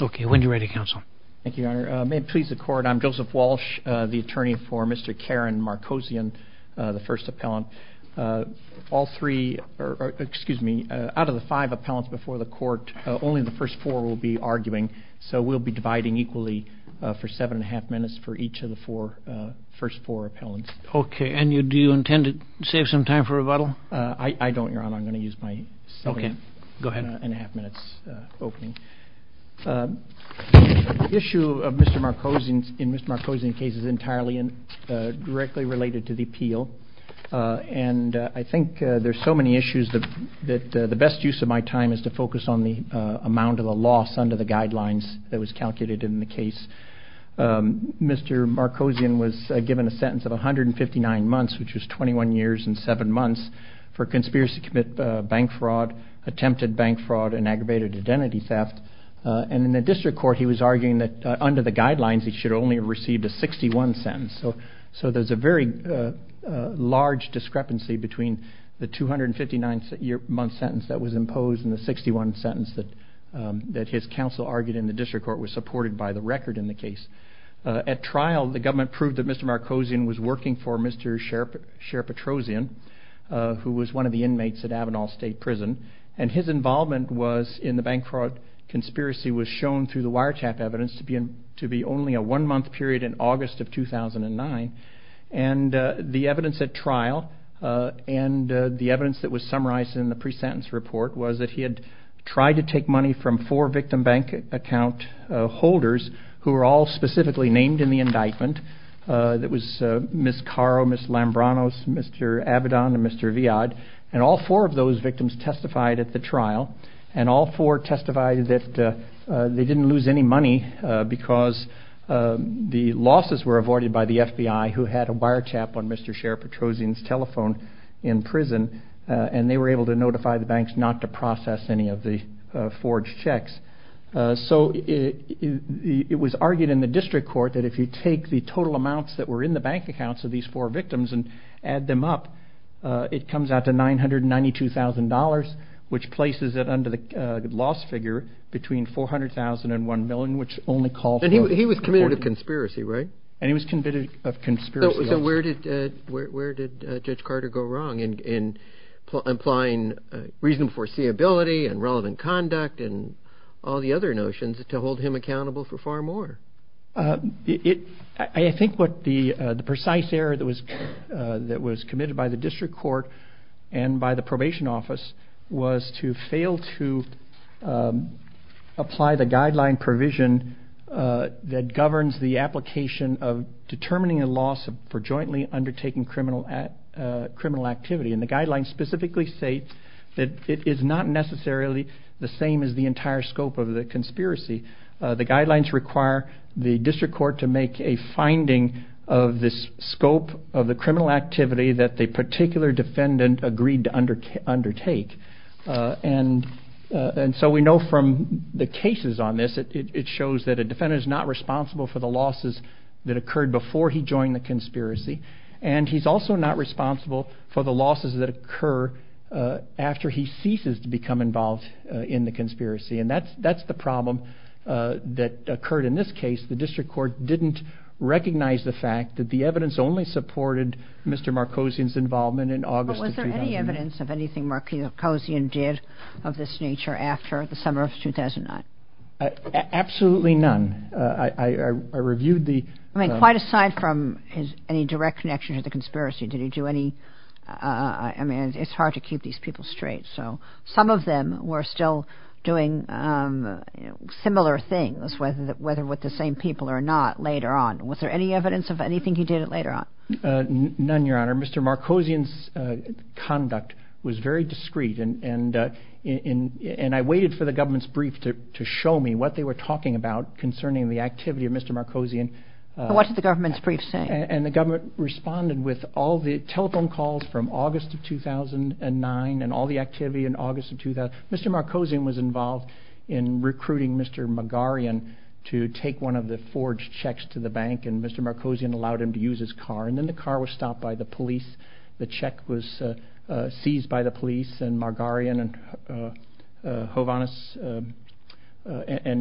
Okay, when you're ready, counsel. Thank you, Your Honor. May it please the Court, I'm Joseph Walsh, the attorney for Mr. Karen Markosian, the first appellant. All three, or excuse me, out of the five appellants before the Court, only the first four will be arguing, so we'll be dividing equally for seven and a half minutes for each of the four, first four appellants. Okay, and do you intend to save some time for rebuttal? I don't, Your Honor. I'm going to use my seven and a half minutes opening. The issue of Mr. Markosian in Mr. Markosian's case is entirely and directly related to the appeal, and I think there's so many issues that the best use of my time is to focus on the amount of a loss under the guidelines that was calculated in the case. Mr. Markosian was given a sentence of 159 months, which was 21 years and seven months, for conspiracy to commit bank fraud, attempted bank fraud, and aggravated identity theft, and in the district court, he was arguing that under the guidelines, he should only have received a 61 sentence, so there's a very large discrepancy between the 259-month sentence that was imposed and the 61 sentence that his counsel argued in the district court was supported by the record in the case. At trial, the government proved that Mr. Markosian was working for Mr. Sherpatrosian, who was one of the inmates at Avenal State Prison, and his involvement was in the bank fraud conspiracy was shown through the wiretap evidence to be only a one-month period in August of 2009, and the evidence at trial and the evidence that was summarized in the pre-sentence report was that he had tried to take money from four victim bank account holders who were all specifically named in the indictment. It was Ms. Caro, Ms. Lambranos, Mr. Abaddon, and Mr. Viad, and all four of those victims testified at the trial, and all four testified that they didn't lose any money because the losses were avoided by the FBI, who had a wiretap on Mr. Sherpatrosian's telephone in prison, and they were able to notify the banks not to process any of the forged checks, so it was argued in the district court that if you take the total amounts that were in the bank accounts of these four victims and add them up, it comes out to $992,000, which places it under the loss figure between $400,000 and $1 million, which only calls for conspiracy, right? And he was convicted of conspiracy. So where did Judge Carter go wrong in applying reasonable foreseeability and relevant conduct and all the other notions to hold him accountable for far more? I think what the precise error that was committed by the district court and by the probation office was to fail to apply the guideline provision that governs the application of determining a loss for jointly undertaking criminal activity. And the guidelines specifically state that it is not necessarily the same as the entire scope of the conspiracy. The guidelines require the district court to make a finding of the scope of the criminal activity that the particular defendant agreed to undertake. And so we know from the cases on this, it shows that a defendant is not responsible for the losses that occurred before he joined the conspiracy. And he's also not responsible for the losses that occur after he ceases to become involved in the conspiracy. And that's the problem that occurred in this case. The district court didn't recognize the fact that the evidence only supported Mr. Markosian's involvement in August of 2000. But was there any evidence of anything Markosian did of this nature after the summer of 2009? Absolutely none. I reviewed the... I mean, quite aside from his any direct connection to the conspiracy, did he do any... I mean, it's hard to keep these people straight. So some of them were still doing similar things, whether with the same people or not later on. Was there any evidence of anything he did later on? None, Your Honor. Mr. Markosian's conduct was very discreet. And I waited for the government's brief to show me what they were talking about concerning the activity of Mr. Markosian. What's the government's brief saying? And the government responded with all the telephone calls from August of 2009 and all the activity in August of 2000. Mr. Markosian was involved in recruiting Mr. Margarian to take one of the forged checks to the bank and Mr. Markosian allowed him to use his car. And then the car was and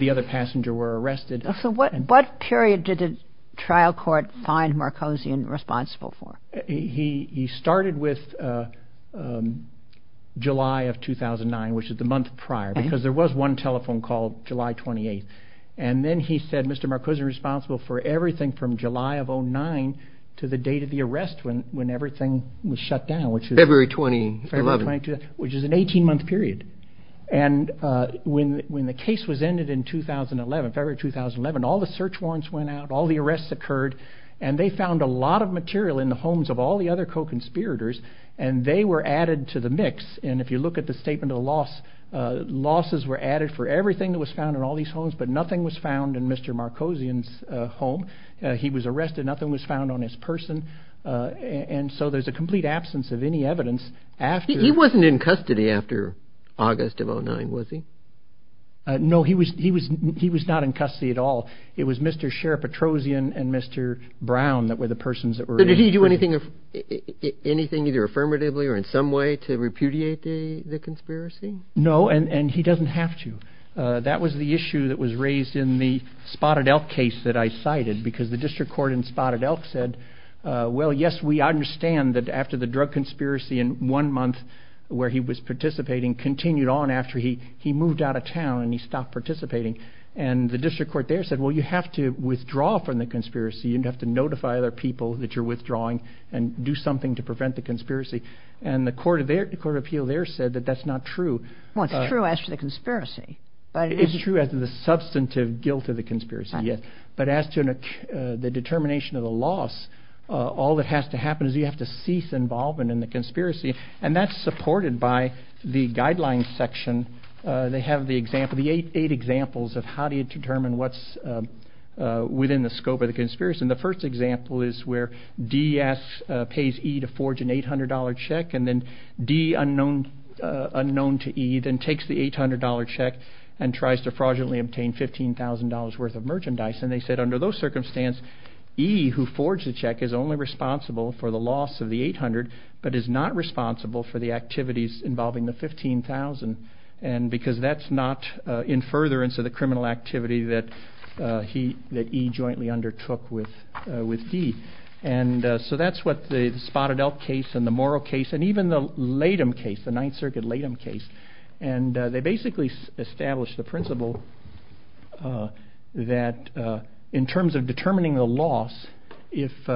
the other passenger were arrested. So what period did the trial court find Markosian responsible for? He started with July of 2009, which is the month prior, because there was one telephone call July 28th. And then he said, Mr. Markosian is responsible for everything from July of 2009 to the date of the arrest when everything was shut down, which is... February 2011. Which is an 18 month period. And when the case was ended in 2011, February 2011, all the search warrants went out, all the arrests occurred, and they found a lot of material in the homes of all the other co-conspirators. And they were added to the mix. And if you look at the statement of loss, losses were added for everything that was found in all these homes, but nothing was found in Mr. Markosian's home. He was arrested, nothing was found on his person. And so there's a complete absence of any evidence after... He wasn't in custody after August of 2009, was he? No, he was not in custody at all. It was Mr. Sheriff Petrosian and Mr. Brown that were the persons that were... Did he do anything either affirmatively or in some way to repudiate the conspiracy? No, and he doesn't have to. That was the issue that was raised in the Spotted Elk case that I cited because the district court in Spotted Elk said, well, yes, we understand that after the where he was participating continued on after he moved out of town and he stopped participating. And the district court there said, well, you have to withdraw from the conspiracy. You have to notify other people that you're withdrawing and do something to prevent the conspiracy. And the court of appeal there said that that's not true. Well, it's true as to the conspiracy, right? It's true as to the substantive guilt of the conspiracy, yes. But as to the determination of the loss, all that has to happen is you have to cease involvement in the conspiracy. And that's supported by the guidelines section. They have the eight examples of how do you determine what's within the scope of the conspiracy. And the first example is where D asks, pays E to forge an $800 check, and then D, unknown to E, then takes the $800 check and tries to fraudulently obtain $15,000 worth of merchandise. And they said under those circumstances, E who forged the check is only responsible for the loss of the 800, but is not responsible for the activities involving the 15,000. And because that's not in furtherance of the criminal activity that E jointly undertook with D. And so that's what the Spotted Elk case and the Morrow case, and even the Latham case, the Ninth Circuit Latham case. And they basically established the principle that in terms of determining the loss, if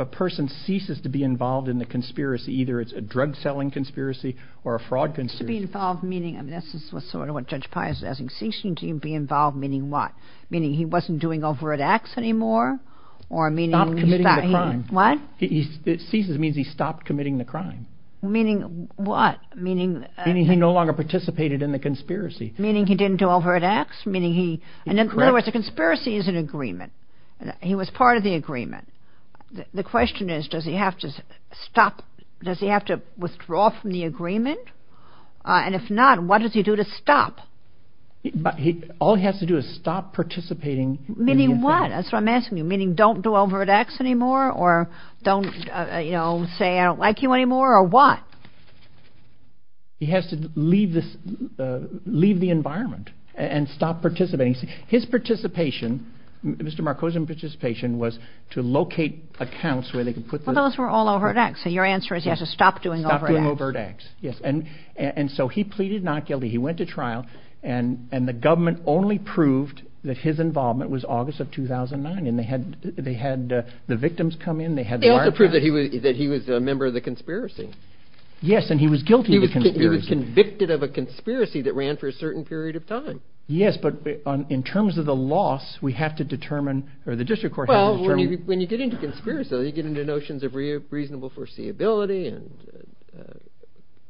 a person ceases to be involved in the conspiracy, either it's a drug selling conspiracy or a fraud conspiracy. To be involved, meaning, I mean, this is sort of what Judge Pius is asking. Ceasing to be involved, meaning what? Meaning he wasn't doing overt acts anymore, or meaning... Stopped committing the crime. What? It ceases means he stopped committing the crime. Meaning what? Meaning... Meaning he no longer participated in the conspiracy. Meaning he didn't do overt acts, meaning he... In other words, a conspiracy is an agreement. He was part of the agreement. The question is, does he have to stop? Does he have to withdraw from the agreement? And if not, what does he do to stop? All he has to do is stop participating. Meaning what? That's what I'm asking you. Meaning don't do overt acts anymore, or don't, you know, say I don't like you anymore, or what? He has to leave the environment and stop participating. His participation, Mr. Markosian's participation, was to locate accounts where they could put... Well, those were all overt acts, so your answer is he has to stop doing overt acts. Stop doing overt acts, yes. And so he pleaded not guilty. He went to trial, and the government only proved that his involvement was August of 2009, and they had the victims come in, they had... They had to prove that he was a member of the conspiracy. Yes, and he was guilty of the conspiracy. He was convicted of a conspiracy that ran for a certain period of time. Yes, but in terms of the loss, we have to determine, or the district court... Well, when you get into conspiracy, you get into notions of reasonable foreseeability and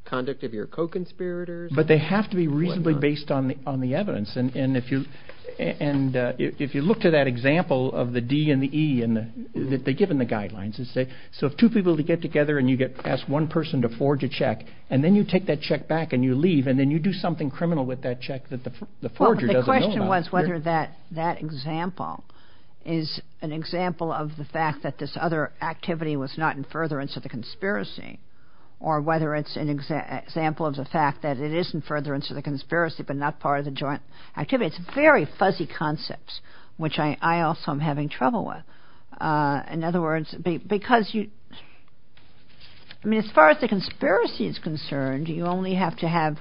conduct of your co-conspirators. But they have to be reasonably based on the evidence, and if you look to that example of the D and the E, and they give them the guidelines, and say, so if two people get together, you ask one person to forge a check, and then you take that check back and you leave, and then you do something criminal with that check that the forger doesn't know about... Well, the question was whether that example is an example of the fact that this other activity was not in furtherance of the conspiracy, or whether it's an example of the fact that it is in furtherance of the conspiracy, but not part of the joint activity. It's very fuzzy concepts, which I also am having trouble with. In other words, because you... I mean, as far as the conspiracy is concerned, you only have to have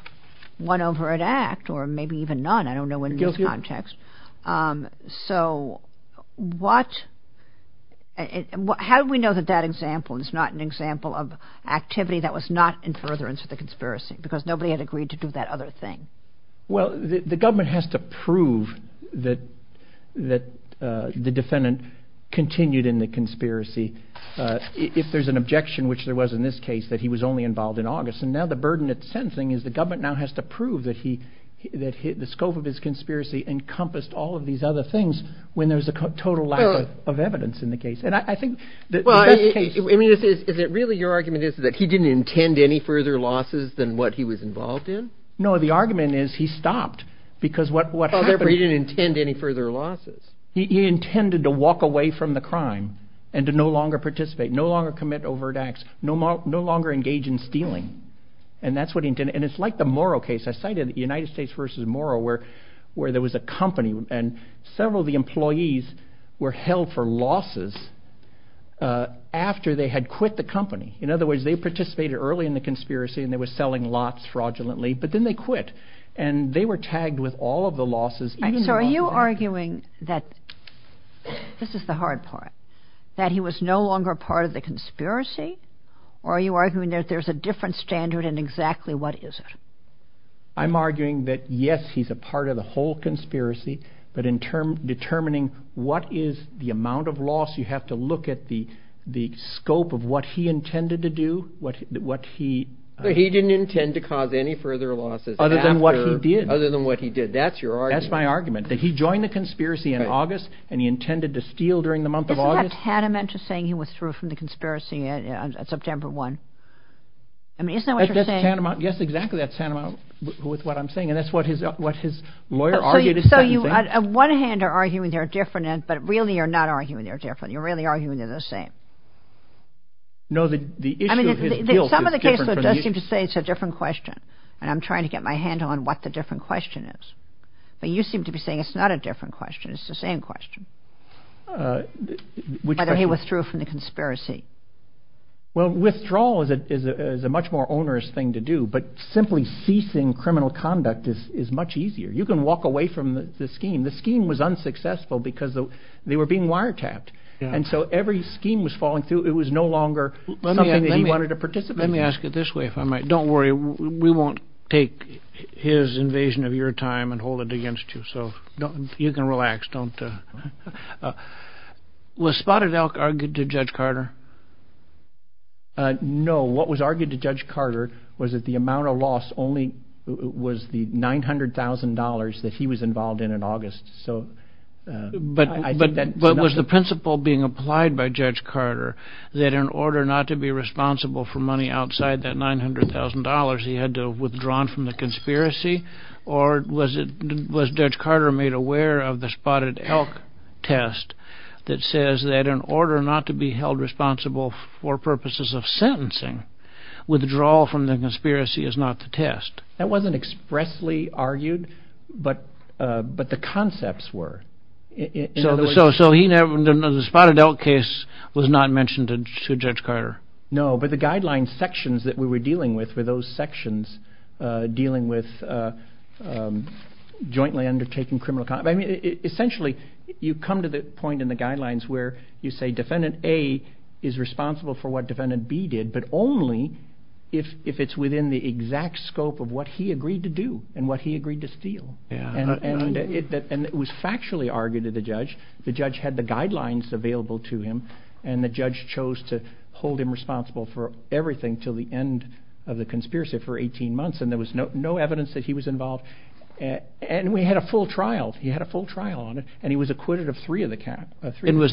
one overt act, or maybe even none, I don't know in this context. So how do we know that that example is not an example of activity that was not in furtherance of the conspiracy, because nobody had agreed to do that other thing? Well, the government has to prove that the defendant continued in the conspiracy, if there's an objection, which there was in this case, that he was only involved in August. And now the burden of sentencing is the government now has to prove that the scope of his conspiracy encompassed all of these other things, when there's a total lack of evidence in the case. And I think that... Well, I mean, is it really your argument is that he didn't intend any further losses than what he was involved in? No, the argument is he stopped, because what happened... He didn't intend any further losses. He intended to walk away from the crime and to no longer participate, no longer commit overt acts, no longer engage in stealing. And that's what he did. And it's like the Morrow case. I cited the United States versus Morrow, where there was a company and several of the employees were held for losses after they had quit the company. In other words, they participated early in the conspiracy and they were selling lots fraudulently, but then they quit and they were tagged with all of the losses. And so are you arguing that this is the hard part, that he was no longer part of the conspiracy? Or are you arguing that there's a different standard and exactly what is it? I'm arguing that, yes, he's a part of the whole conspiracy, but in determining what is the amount of loss, you have to look at the scope of what he intended to do, what he... But he didn't intend to cause any further losses. Other than what he did. Other than what he did. That's your argument. That's my argument, that he joined the conspiracy in August and he intended to steal during the month of August. Isn't that a tantamount to saying he withdrew from the conspiracy on September 1? I mean, isn't that what you're saying? Yes, exactly. That's tantamount with what I'm saying. And that's what his lawyer argued. So you, on one hand, are arguing they're different, but really you're not arguing they're different. You're really arguing they're the same. No, the issue of his guilt is different from the issue... I mean, some of the cases do seem to say it's a different question. And I'm trying to get my hand on what the different question is. But you seem to be saying it's not a different question. It's the same question. Which question? That he withdrew from the conspiracy. Well, withdrawal is a much more onerous thing to do, but simply ceasing criminal conduct is much easier. You can walk away from the scheme. The scheme was unsuccessful because they were being wiretapped. And so every scheme was falling through. It was no longer something that he wanted to participate in. Let me ask it this way, if I might. Don't worry, we won't take his invasion of your time and hold it against you. So you can relax. Was Spotted Elk argued to Judge Carter? No. What was argued to Judge Carter was that the amount of loss only was the $900,000 that he was involved in in August. But was the principle being applied by Judge Carter that in order not to be responsible for money outside that $900,000, he had to have withdrawn from the conspiracy? Or was Judge Carter made aware of the Spotted Elk test that says that in order not to be held for purposes of sentencing, withdrawal from the conspiracy is not the test? That wasn't expressly argued, but the concepts were. So the Spotted Elk case was not mentioned to Judge Carter? No, but the guidelines sections that we were dealing with were those sections dealing with jointly undertaking criminal conduct. I mean, essentially, you come to a point in the guidelines where you say Defendant A is responsible for what Defendant B did, but only if it's within the exact scope of what he agreed to do and what he agreed to steal. And it was factually argued to the judge. The judge had the guidelines available to him, and the judge chose to hold him responsible for everything till the end of the conspiracy for 18 months. And there was no evidence that he was involved. And we had a full trial. He had a full trial. And was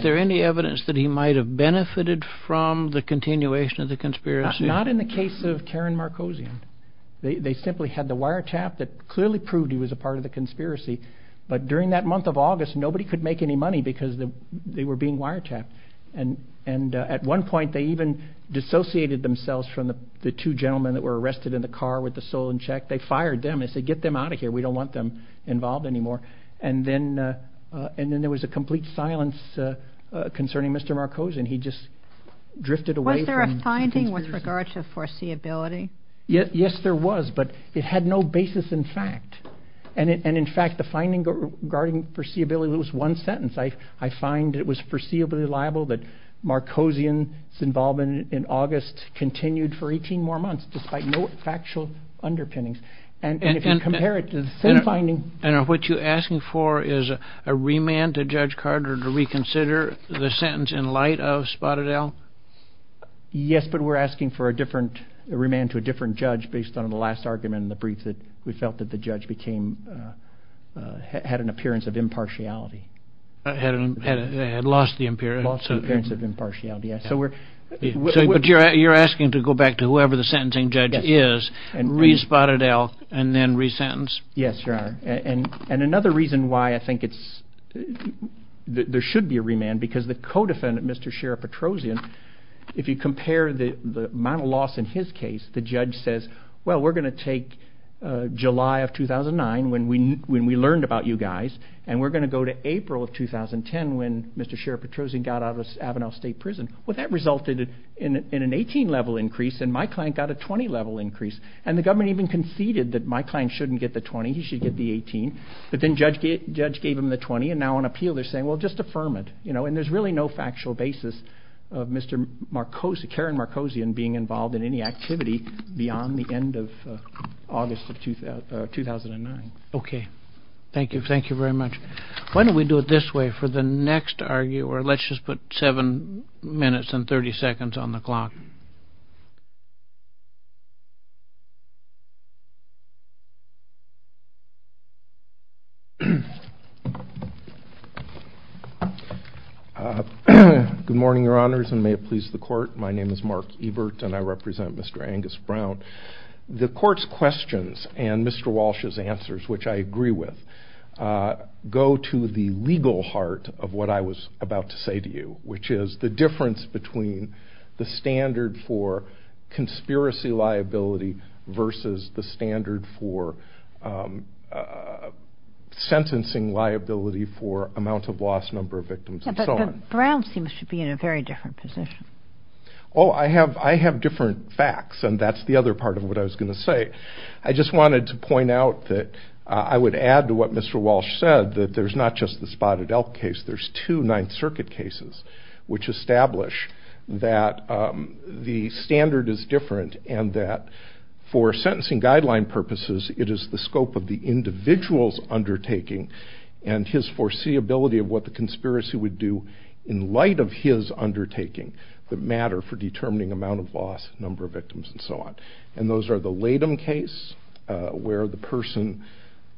there any evidence that he might have benefited from the continuation of the conspiracy? Not in the case of Karen Markosian. They simply had the wiretap that clearly proved he was a part of the conspiracy. But during that month of August, nobody could make any money because they were being wiretapped. And at one point, they even dissociated themselves from the two gentlemen that were arrested in the car with the stolen check. They fired them. They said, Get them out of here. We don't want them involved anymore. And then there was a complete silence concerning Mr. Markosian. He just drifted away. Was there a finding with regard to foreseeability? Yes, there was. But it had no basis in fact. And in fact, the finding regarding foreseeability was one sentence. I find it was foreseeably liable that Markosian's involvement in August continued for 18 more months despite no factual underpinnings. And if you compare it to the same finding... And what you're asking for is a remand to Judge Carter to reconsider the sentence in light of Spotted Ale? Yes, but we're asking for a different remand to a different judge based on the last argument in the brief that we felt that the judge had an appearance of impartiality. Had lost the appearance of impartiality. But you're asking to go back to whoever the sentencing judge is and re-Spotted Ale and then re-sentence? Yes, Your Honor. And another reason why I think there should be a remand because the co-defendant, Mr. Sheriff Petrosian, if you compare the amount of loss in his case, the judge says, Well, we're going to take July of 2009 when we learned about you guys, and we're going to go to April of 2010 when Mr. Sheriff Petrosian got out of the Avanel State Prison. Well, that resulted in an 18-level increase and my client got a 20-level increase. And the government even conceded that my client shouldn't get the 20, he should get the 18. But then judge gave him the 20. And now on appeal, they're saying, Well, just affirm it. And there's really no factual basis of Karen Markosian being involved in any activity beyond the end of August of 2009. Okay. Thank you. Thank you very much. Why don't we do it this way for the next arguer. Let's just put seven minutes and 30 seconds on the clock. Good morning, Your Honors, and may it please the court. My name is Mark Ebert, and I represent Mr. Angus Brown. The court's questions and Mr. Walsh's answers, which I agree with, go to the legal heart of what I was about to say to you, which is the difference between the standard for conspiracy liability versus the standard for sentencing liability for amount of loss, number of victims, and so on. Brown seems to be in a very different position. Oh, I have different facts, and that's the other part of what I was going to say. I just wanted to point out that I would add to what Mr. Walsh said, that there's not just the Spotted Elk case. There's two Ninth Circuit cases, which establish that the standard is different and that for sentencing guideline purposes, it is the scope of the individual's undertaking and his matter for determining amount of loss, number of victims, and so on. And those are the Latham case, where the person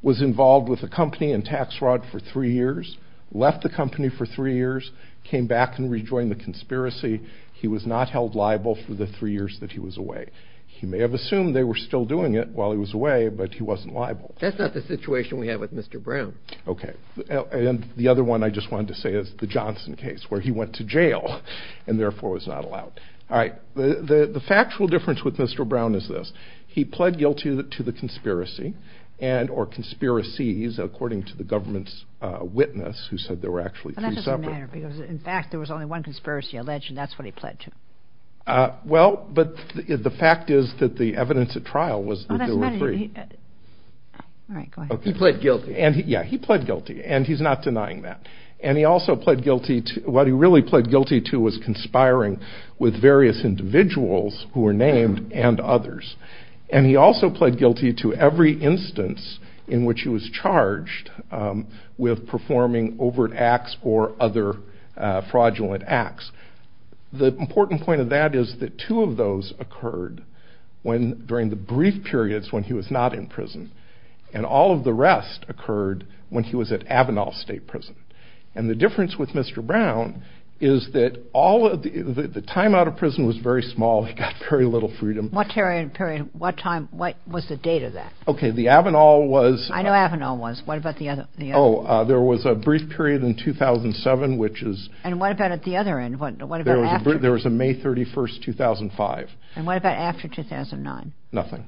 was involved with a company and tax fraud for three years, left the company for three years, came back and rejoined the conspiracy. He was not held liable for the three years that he was away. He may have assumed they were still doing it while he was away, but he wasn't liable. That's not the situation we have with Mr. Brown. Okay, and the other one I just wanted to say is the Johnson case, where he went to jail and therefore was not allowed. All right, the factual difference with Mr. Brown is this. He pled guilty to the conspiracy and or conspiracies, according to the government's witness, who said they were actually two separate. In fact, there was only one conspiracy alleged, and that's what he pled to. Well, but the fact is that the evidence at trial was that they were three. He pled guilty, and yeah, he pled guilty, and he's not denying that. And he also pled guilty to, what he really pled guilty to, was conspiring with various individuals who were named and others. And he also pled guilty to every instance in which he was charged with performing overt acts or other fraudulent acts. The important point of that is that two of those occurred during the brief periods when he was not in prison, and all of the rest occurred when he was at Avanall State Prison. And the difference with Mr. Brown is that all of the time out of prison was very small. He got very little freedom. What period, what time, what was the date of that? Okay, the Avanall was... I know Avanall was. What about the other? Oh, there was a brief period in 2007, which is... And what about at the other end? There was a May 31st, 2005. And what about after 2009? Nothing.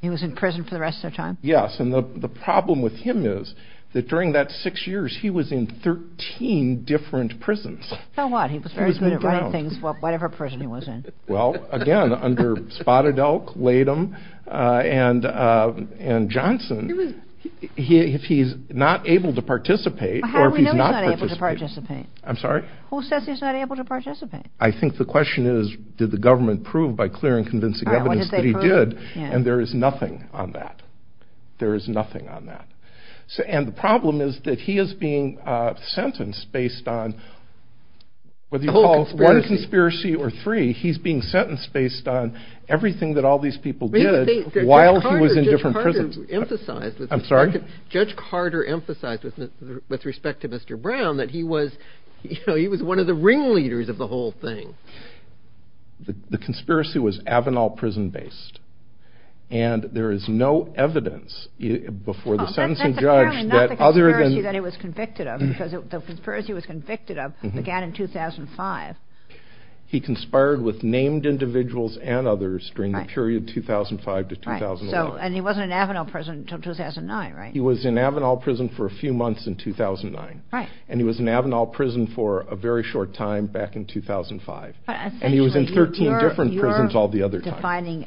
He was in prison for the rest of the time? Yes, and the problem with him is that during that six years, he was in 13 different prisons. So what? He was very good at writing things for whatever prison he was in. Well, again, under Spotted Oak, Latham, and Johnson, if he's not able to participate, or if he's not participating... How do we know he's not able to participate? I'm sorry? Who says he's not able to participate? I think the question is, did the government prove by clear and convincing evidence that he did? And there is nothing on that. There is nothing on that. And the problem is that he is being sentenced based on what you call one conspiracy or three. He's being sentenced based on everything that all these people did while he was in different prisons. Judge Carter emphasized this, with respect to Mr. Brown, that he was, you know, he was one of the ringleaders of the whole thing. The conspiracy was Avenal prison-based, and there is no evidence before the sentencing judge that other than... That's the conspiracy that he was convicted of, because the conspiracy he was convicted of began in 2005. He conspired with named individuals and others during the period 2005 to 2009. And he wasn't in Avenal prison until 2009, right? He was in Avenal prison for a few months in 2009. Right. And he was in Avenal prison for a very short time back in 2005. And he was in 13 different prisons all the other time. You're defining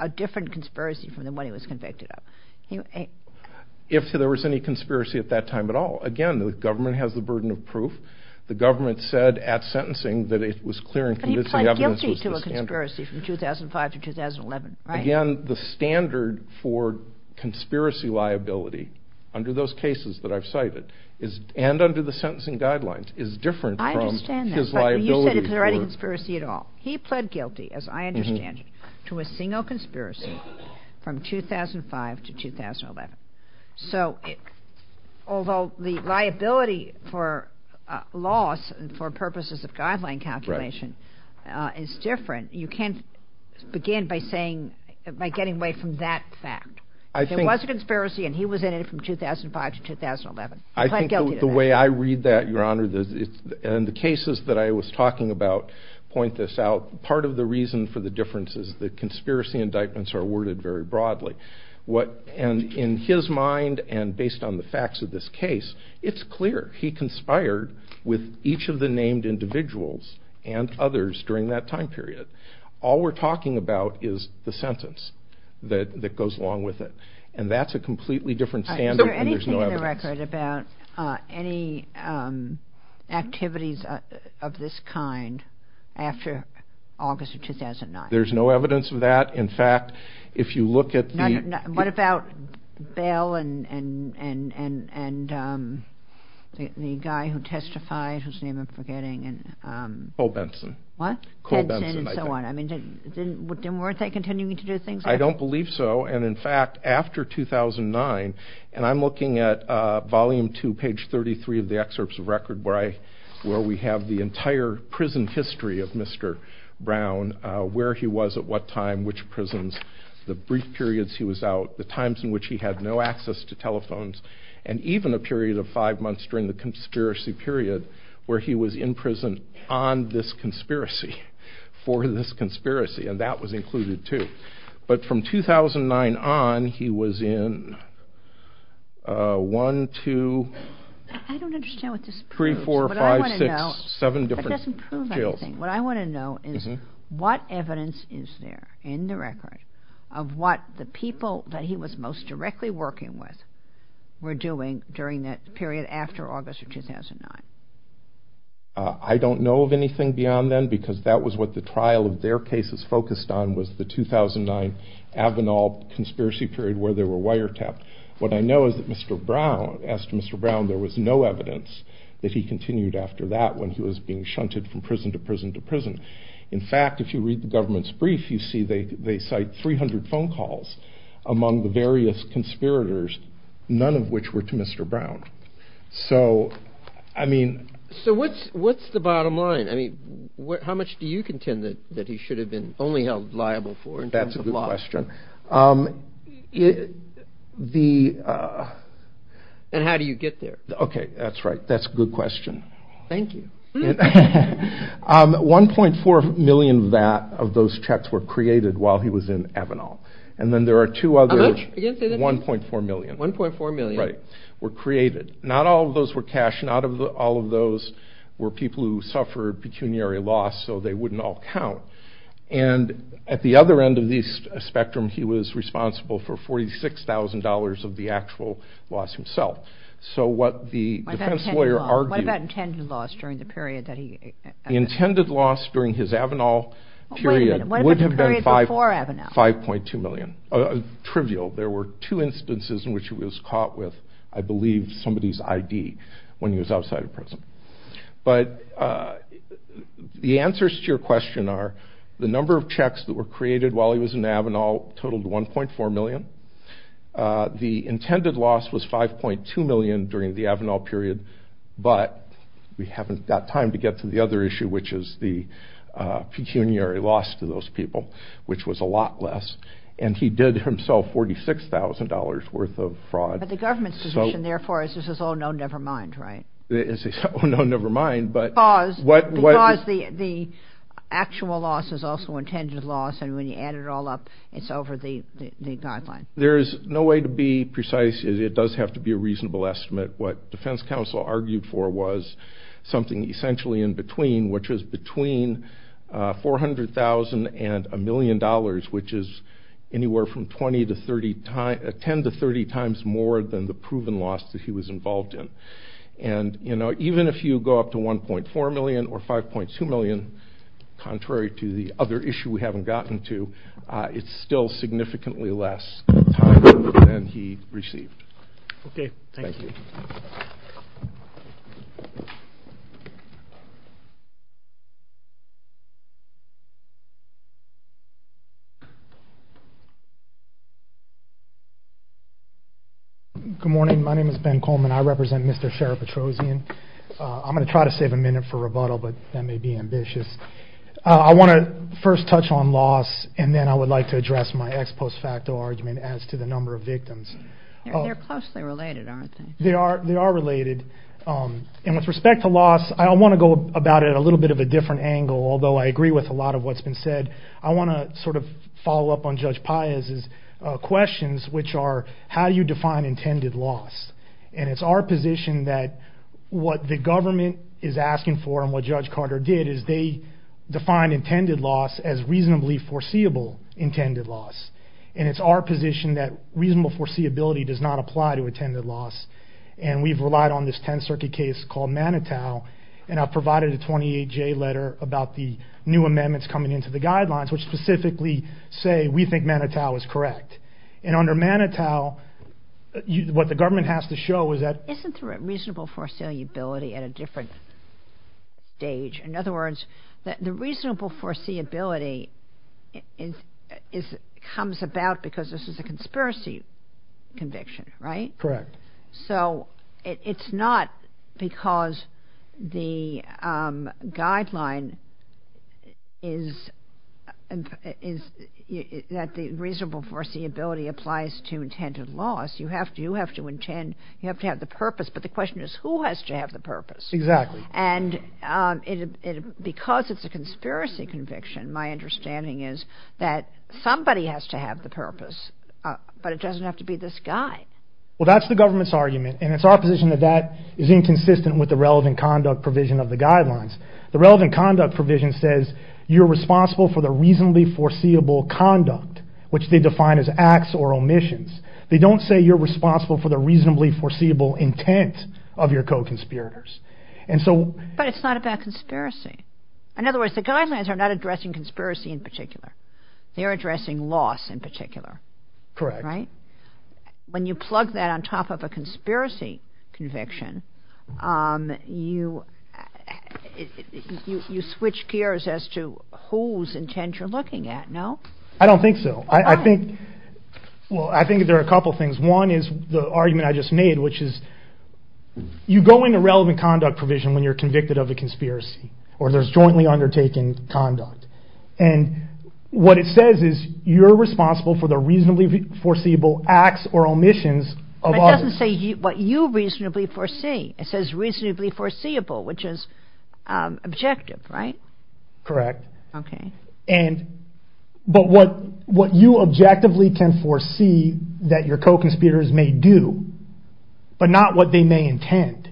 a different conspiracy from the one he was convicted of. If there was any conspiracy at that time at all, again, the government has the burden of proof. The government said at sentencing that it was clear and convincing evidence was the standard. But he pled guilty to a conspiracy from 2005 to 2011, right? Again, the standard for conspiracy liability under those cases that I've cited, and under the sentencing guidelines, is different from his liability. I understand that, but you said there was no conspiracy at all. He pled guilty, as I understand it, to a single conspiracy from 2005 to 2011. So although the liability for loss and for purposes of guideline confirmation is different, you can't begin by saying, by getting away from that fact. There was a conspiracy and he was in it from 2005 to 2011. I think the way I read that, Your Honor, and the cases that I was talking about point this out. Part of the reason for the difference is that conspiracy indictments are worded very broadly. And in his mind, and based on the facts of this case, it's clear. He conspired with each of the named individuals and others during that time period. All we're And that's a completely different standard. Is there anything in the record about any activities of this kind after August of 2009? There's no evidence of that. In fact, if you look at the... What about Bell and the guy who testified, whose name I'm forgetting? Cole Benson. What? Cole Benson. Benson and so on. I mean, didn't Wertheit continue to do things like that? I don't believe so. And in fact, after 2009, and I'm looking at Volume 2, page 33 of the excerpts of record where we have the entire prison history of Mr. Brown, where he was at what time, which prisons, the brief periods he was out, the times in which he had no access to telephones, and even a period of five months during the conspiracy period, where he was in prison on this conspiracy, for this conspiracy, and that was included too. But from 2009 on, he was in one, two, three, four, five, six, seven different jails. What I want to know is what evidence is there in the record of what the people that he was most directly working with were doing during that period after August of 2009? I don't know of anything beyond then, because that was what the trial of their cases focused on, was the 2009 Avenal conspiracy period where they were wiretapped. What I know is that Mr. Brown, as to Mr. Brown, there was no evidence that he continued after that when he was being shunted from prison to prison to prison. In fact, if you read the government's brief, you see they cite 300 phone calls among the various conspirators, none of which were to Mr. Brown. So, I mean... So what's the bottom line? I mean, how much do you contend that he should have been only held liable for in terms of loss? That's a good question. And how do you get there? Okay, that's right. That's a good question. Thank you. 1.4 million of those checks were created while he was in Avenal. And then there are two others, 1.4 million. 1.4 million. Right, were created. Not all of those were cash. Not all of those were people who suffered pecuniary loss, so they wouldn't all count. And at the other end of the spectrum, he was responsible for $46,000 of the actual loss himself. So what the defense lawyer argued... What about intended loss during the period that he... The intended loss during his Avenal period would have been 5.2 million. Trivial. There were two instances in which he was caught with, I believe, somebody's ID when he was outside of prison. But the answers to your question are, the number of checks that were created while he was in Avenal totaled 1.4 million. The intended loss was 5.2 million during the Avenal period. But we haven't got time to get to the other issue, which is the pecuniary loss to those people, which was a lot less. And he did himself $46,000 worth of fraud. But the government's position, therefore, is this is all, no, never mind, right? No, never mind, but... Because the actual loss is also intended loss. And when you add it all up, it's over the guideline. There's no way to be precise. It does have to be a reasonable estimate. What defense counsel argued for was something essentially in between, which was between $400,000 and $1 million, which is anywhere from 10 to 30 times more than the proven loss that he was involved in. And even if you go up to $1.4 million or $5.2 million, contrary to the other issue we haven't gotten to, it's still significantly less than he received. Okay, thank you. Good morning. My name is Ben Coleman. I represent Mr. Sheriff Petrosian. I'm going to try to save a minute for rebuttal, but that may be ambitious. I want to first touch on loss, and then I would like to address my ex post facto argument as to the number of victims. They're closely related, aren't they? They are. They are related. And with respect to loss, I want to go about it a little bit of a different angle, although I agree with a lot of what's been said. I want to sort of follow up on Judge Paez's questions, which are how you define intended loss. And it's our position that what the government is asking for, and what Judge Carter did, is they defined intended loss as reasonably foreseeable intended loss. And it's our position that reasonable foreseeability does not apply to intended loss. And we've relied on this 10th Circuit case called Manitow, and I've provided a 28-J letter about the new amendments coming into the guidelines, which specifically say we think Manitow is correct. And under Manitow, what the government has to show is that... Isn't reasonable foreseeability at a different stage? In other words, the reasonable foreseeability comes about because this is a conspiracy conviction, right? Correct. So it's not because the guideline is that the reasonable foreseeability applies to intended loss. You have to have the purpose. But the question is, who has to have the purpose? Exactly. And because it's a conspiracy conviction, my understanding is that somebody has to have the purpose, but it doesn't have to be this guy. Well, that's the government's argument, and it's our position that that is inconsistent with the relevant conduct provision of the guidelines. The relevant conduct provision says, you're responsible for the reasonably foreseeable conduct, which they define as acts or omissions. They don't say you're responsible for the reasonably foreseeable intent of your co-conspirators. And so... But it's not about conspiracy. In other words, the guidelines are not addressing conspiracy in particular. They're addressing loss in particular. Correct. Right? When you plug that on top of a conspiracy conviction, you switch gears as to whose intent you're looking at, no? I don't think so. Well, I think there are a couple things. One is the argument I just made, which is, you go into relevant conduct provision when you're convicted of a conspiracy or there's jointly undertaken conduct. And what it says is, you're responsible for the reasonably foreseeable acts or omissions of others. It doesn't say what you reasonably foresee. It says reasonably foreseeable, which is objective, right? Correct. Okay. But what you objectively can foresee that your co-conspirators may do, but not what they may intend,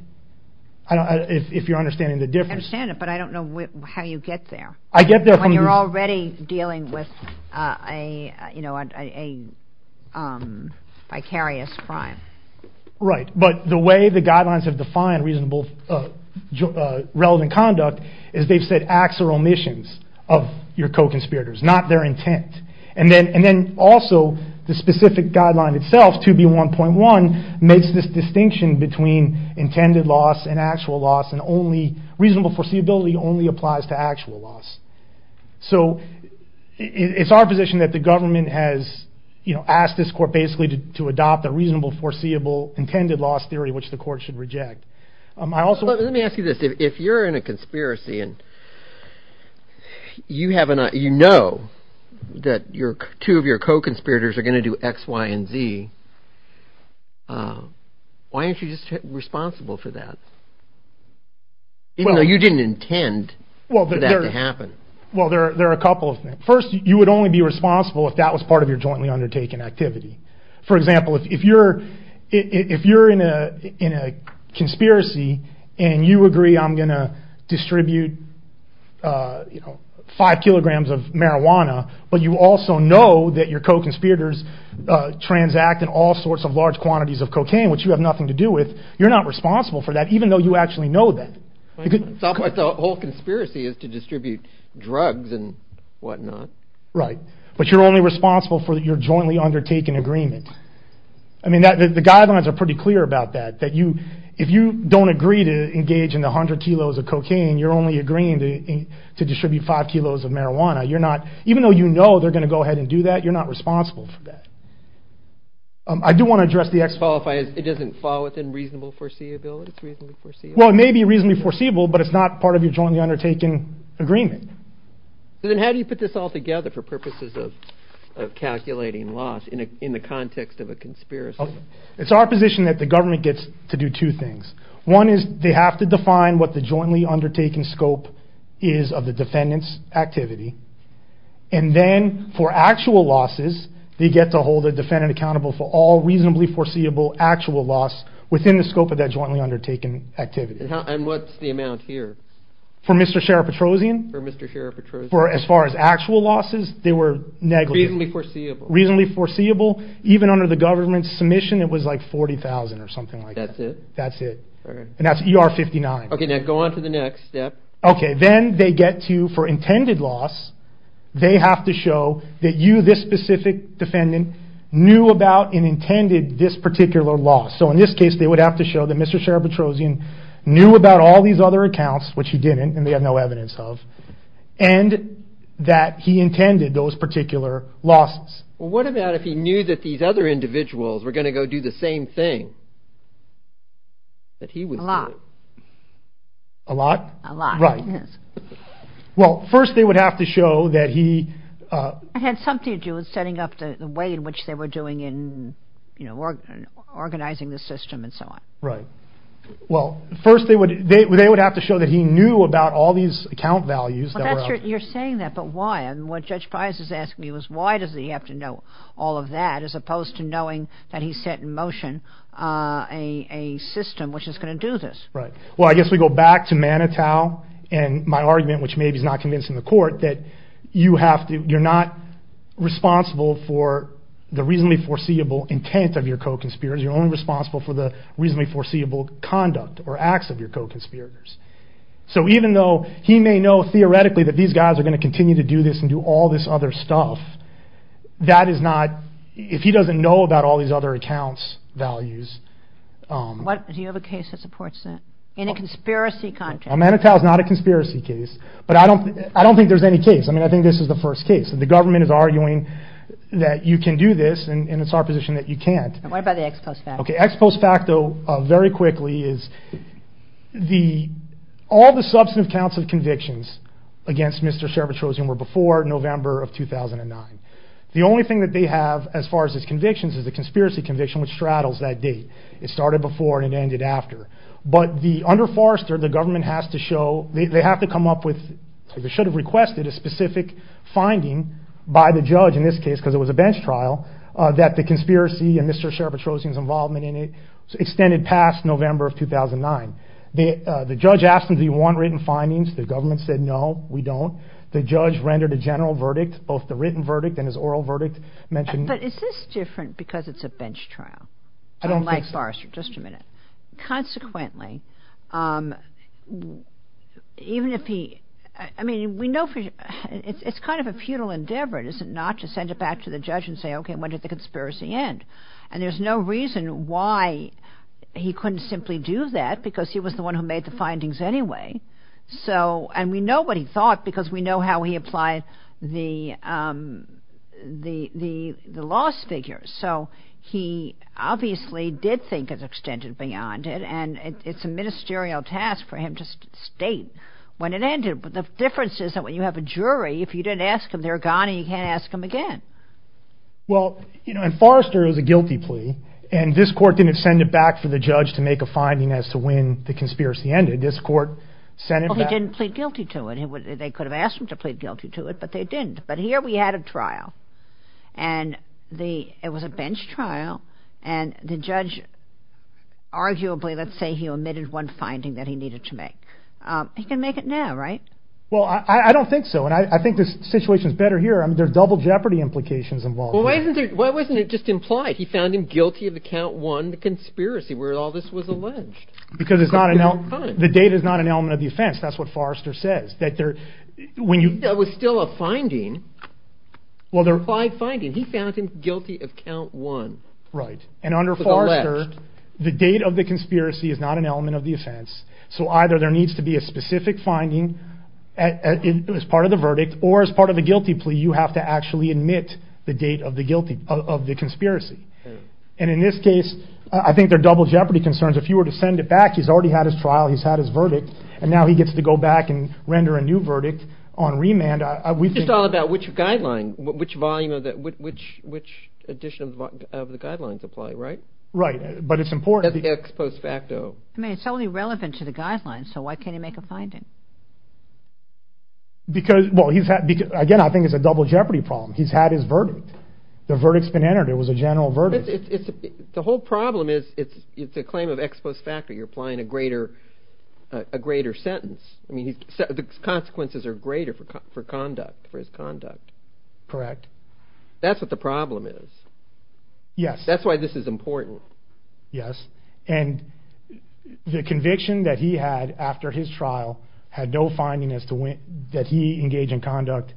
if you're understanding the difference. I understand it, but I don't know how you get there. I get there from... You're already dealing with a, you know, a vicarious crime. Right. But the way the guidelines have defined reasonable relevant conduct is they've said acts or omissions of your co-conspirators, not their intent. And then also the specific guideline itself, 2B1.1, makes this distinction between intended loss and actual loss, and only reasonable foreseeability only applies to actual loss. So it's our position that the government has, you know, asked this court basically to adopt a reasonable foreseeable intended loss theory, which the court should reject. I also... Let me ask you this. If you're in a conspiracy and you know that two of your co-conspirators are going to do X, Y, and Z, why aren't you just responsible for that? Even though you didn't intend for that to happen. Well, there are a couple of things. First, you would only be responsible if that was part of your jointly undertaken activity. For example, if you're in a conspiracy and you agree I'm going to distribute, you know, five kilograms of marijuana, but you also know that your co-conspirators transact in all sorts of large quantities of cocaine, which you have nothing to do with, you're not responsible for that, even though you actually know that. The whole conspiracy is to distribute drugs and whatnot. Right. But you're only responsible for your jointly undertaken agreement. I mean, the guidelines are pretty clear about that, that if you don't agree to engage in 100 kilos of cocaine, you're only agreeing to distribute five kilos of marijuana. You're not... Even though you know they're going to go ahead and do that, you're not responsible for that. I do want to address the... It doesn't fall within reasonable foreseeability. Well, it may be reasonably foreseeable, but it's not part of your jointly undertaken agreement. So then how do you put this all together for purposes of calculating loss in the context of a conspiracy? It's our position that the government gets to do two things. One is they have to define what the jointly undertaken scope is of the defendant's activity. And then for actual losses, they get to hold the defendant accountable for all reasonably foreseeable actual loss within the scope of that jointly undertaken activity. And what's the amount here? For Mr. Sheriff Petrosian? For Mr. Sheriff Petrosian. As far as actual losses, they were negligent. Reasonably foreseeable. Reasonably foreseeable. Even under the government's submission, it was like $40,000 or something like that. That's it? That's it. And that's ER-59. Okay, now go on to the next step. Okay, then they get to, for intended loss, they have to show that you, this specific defendant, knew about and intended this particular loss. So in this case, they would have to show that Mr. Sheriff Petrosian knew about all these other accounts, which he didn't, and they have no evidence of, and that he intended those particular losses. Well, what about if he knew that these other individuals were going to go do the same thing? That he would do it? A lot. A lot? A lot. Right. Well, first they would have to show that he... Had something to do with setting up the way in which they were doing in, you know, organizing the system and so on. Right. Well, first they would have to show that he knew about all these account values that are... You're saying that, but why? And what Judge Pius is asking is why does he have to know all of that, as opposed to knowing that he set in motion a system which is going to do this? Right. Well, I guess we go back to Manitow, and my argument, which maybe is not convincing the court, that you have to, you're not responsible for the reasonably foreseeable intent of your co-conspirators. You're only responsible for the reasonably foreseeable conduct or acts of your co-conspirators. So even though he may know theoretically that these guys are going to continue to do this and do all this other stuff, that is not, if he doesn't know about all these other accounts, values... What, do you have a case that supports that? In a conspiracy context? Manitow is not a conspiracy case, but I don't think there's any case. I mean, I think this is the first case. The government is arguing that you can do this, and it's our position that you can't. What about the ex post facto? Okay, ex post facto, very quickly, is all the substantive counts of convictions against Mr. Scherbetrosian were before November of 2009. The only thing that they have, as far as his convictions, is a conspiracy conviction which straddles that date. It started before and it ended after. But the under Forrester, the government has to show, they have to come up with, they should have requested a specific finding by the judge in this case, because it was a bench trial, that the conspiracy and Mr. Scherbetrosian's involvement in it extended past November of 2009. The judge asked him, do you want written findings? The government said, no, we don't. The judge rendered a general verdict, both the written verdict and his oral verdict, mentioned... But is this different because it's a bench trial? I don't think so. Unlike Forrester, just a minute. Consequently, even if he... I mean, we know for sure, it's kind of a futile endeavor, is it not, to send it back to the judge and say, OK, when did the conspiracy end? And there's no reason why he couldn't simply do that, because he was the one who made the findings anyway. So, and we know what he thought, because we know how he applied the loss figures. So he obviously did think it extended beyond it. And it's a ministerial task for him to state when it ended. But the difference is that when you have a jury, if you didn't ask them, they're gone and you can't ask them again. Well, you know, and Forrester is a guilty plea. And this court didn't send it back for the judge to make a finding as to when the conspiracy ended. This court sent it back... Well, he didn't plead guilty to it. They could have asked him to plead guilty to it, but they didn't. But here we had a trial. And it was a bench trial. And the judge, arguably, let's say he omitted one finding that he needed to make. He can make it now, right? Well, I don't think so. And I think this situation is better here. I mean, there's double jeopardy implications involved. Well, why wasn't it just implied? He found him guilty of account one, the conspiracy, where all this was alleged. Because it's not an element... The data is not an element of the offense. That's what Forrester says. That there, when you... That was still a finding. Well, there are five findings. He found him guilty of count one. Right. And under Forrester, the date of the conspiracy is not an element of the offense. So either there needs to be a specific finding as part of the verdict, or as part of the guilty plea, you have to actually admit the date of the conspiracy. And in this case, I think they're double jeopardy concerns. If you were to send it back, he's already had his trial. He's had his verdict. And now he gets to go back and render a new verdict on remand. It's all about which guideline, which volume of that, which edition of the guidelines apply, right? Right. But it's important. That's the ex post facto. I mean, it's only relevant to the guidelines. So why can't he make a finding? Because, well, he's had... Again, I think it's a double jeopardy problem. He's had his verdict. The verdict's been entered. It was a general verdict. The whole problem is the claim of ex post facto. You're applying a greater sentence. I mean, the consequences are greater for conduct, for his conduct. Correct. That's what the problem is. Yes. That's why this is important. Yes. And the conviction that he had after his trial had no findings that he engaged in conduct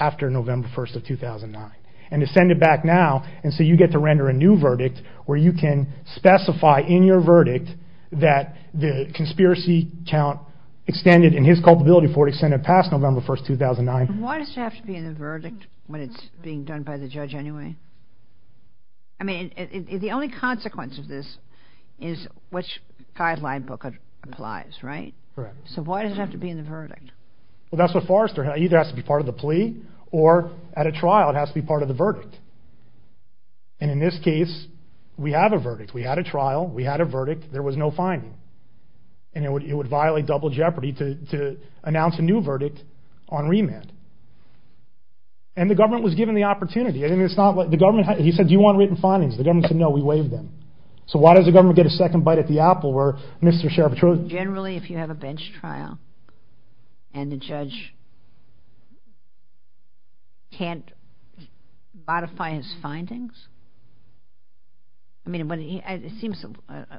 after November 1st of 2009. And to send it back now, and so you get to render a new verdict, where you can specify in your verdict that the conspiracy count extended, and his culpability for it extended past November 1st, 2009. Why does it have to be in a verdict when it's being done by the judge anyway? I mean, the only consequence of this is which guideline book applies, right? Correct. So why does it have to be in the verdict? Well, that's what Forrester... Either it has to be part of the plea, or at a trial, it has to be part of the verdict. And in this case, we have a verdict. We had a trial. We had a verdict. There was no finding. And it would violate double jeopardy to announce a new verdict on remand. And the government was given the opportunity. I mean, it's not what... The government... He said, do you want written findings? The government said, no, we waived them. So why does the government get a second bite at the apple where Mr. Sheriff... Generally, if you have a bench trial, and the judge can't modify his findings... I mean, it seems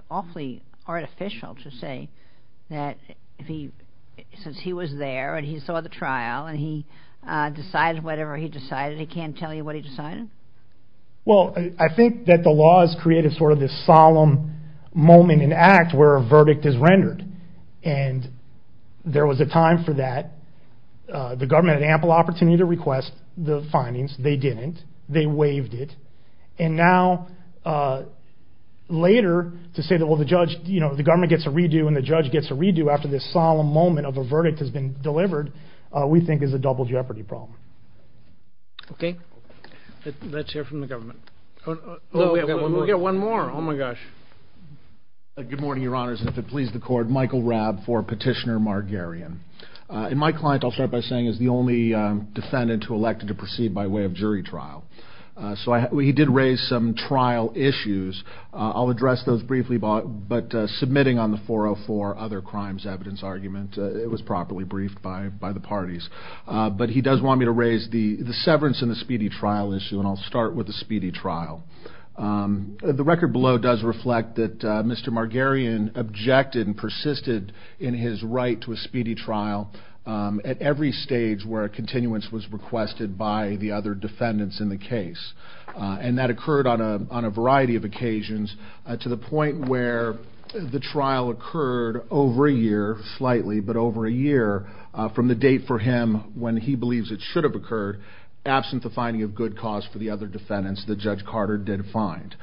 awfully artificial to say that since he was there, and he saw the trial, and he decided whatever he decided, he can't tell you what he decided? Well, I think that the law has created sort of this solemn moment in the act where a verdict is rendered. And there was a time for that. The government had ample opportunity to request the findings. They didn't. They waived it. And now, later, to say that, well, the judge, you know, the government gets a redo, and the judge gets a redo after this solemn moment of a verdict has been delivered, we think is a double jeopardy problem. Okay. Let's hear from the government. We'll get one more. Oh, my gosh. Good morning, Your Honors. If it pleases the court, Michael Rabb for Petitioner Margarian. And my client, I'll start by saying, is the only defendant who elected to proceed by way of jury trial. So he did raise some trial issues. I'll address those briefly, but submitting on the 404 other crimes evidence argument, it was properly briefed by the parties. But he does want me to raise the severance in the speedy trial issue, and I'll start with the speedy trial. The record below does reflect that Mr. Margarian objected and persisted in his right to a speedy trial at every stage where a continuance was requested by the other defendants in the case. And that occurred on a variety of occasions, to the point where the trial occurred over a year, slightly, but over a year from the date for him when he believes it should have occurred, absent the finding of good cause for the other defendants that Judge Carter did find.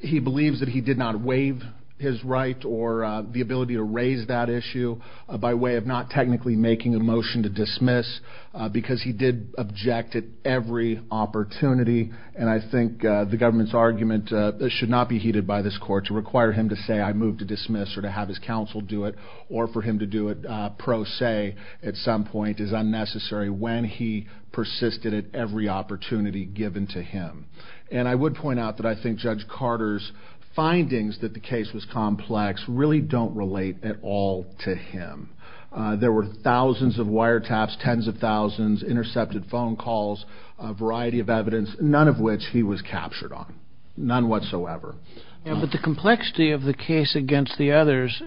He believes that he did not waive his right or the ability to raise that issue by way of not technically making a motion to dismiss, because he did object at every opportunity. And I think the government's argument should not be heeded by this court to require him to say, I move to dismiss, or to have his counsel do it, or for him to do it pro se at some point is unnecessary when he persisted at every opportunity given to him. And I would point out that I think Judge Carter's findings that the case was complex really don't relate at all to him. There were thousands of wiretaps, tens of thousands, intercepted phone calls, a variety of evidence, none of which he was captured on. None whatsoever. But the complexity of the case against the others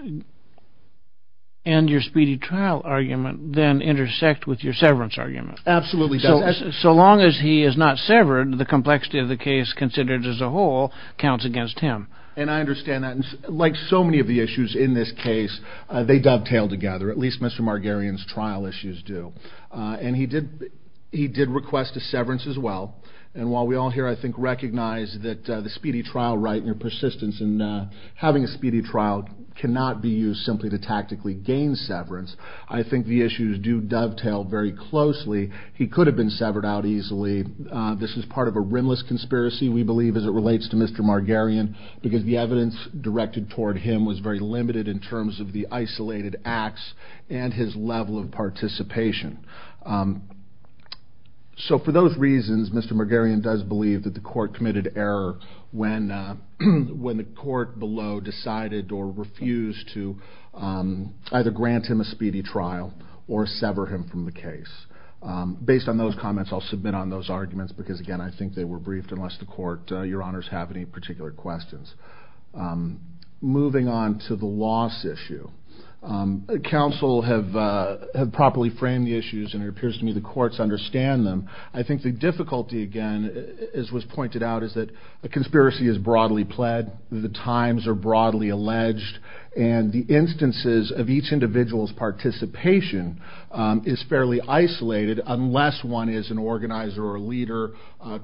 and your speedy trial argument then intersect with your severance argument. Absolutely. So long as he is not severed, the complexity of the case considered as a whole counts against him. And I understand that. Like so many of the issues in this case, they dovetail together. At least Mr. Margarian's trial issues do. And he did request a severance as well. And while we all here, I think, recognize that the speedy trial right and your persistence in having a speedy trial cannot be used simply to tactically gain severance. I think the issues do dovetail very closely. He could have been severed out easily. This is part of a rimless conspiracy, we believe, as it relates to Mr. Margarian, because the evidence directed toward him was very limited in terms of the isolated acts and his level of participation. So for those reasons, Mr. Margarian does believe that the court committed error when the court below decided or refused to either grant him a speedy trial or sever him from the case. Based on those comments, I'll submit on those arguments because, again, I think they were briefed your honors have any particular questions. Moving on to the loss issue. Counsel have properly framed the issues and it appears to me the courts understand them. I think the difficulty, again, as was pointed out, is that a conspiracy is broadly pled, the times are broadly alleged, and the instances of each individual's participation is fairly isolated unless one is an organizer or a leader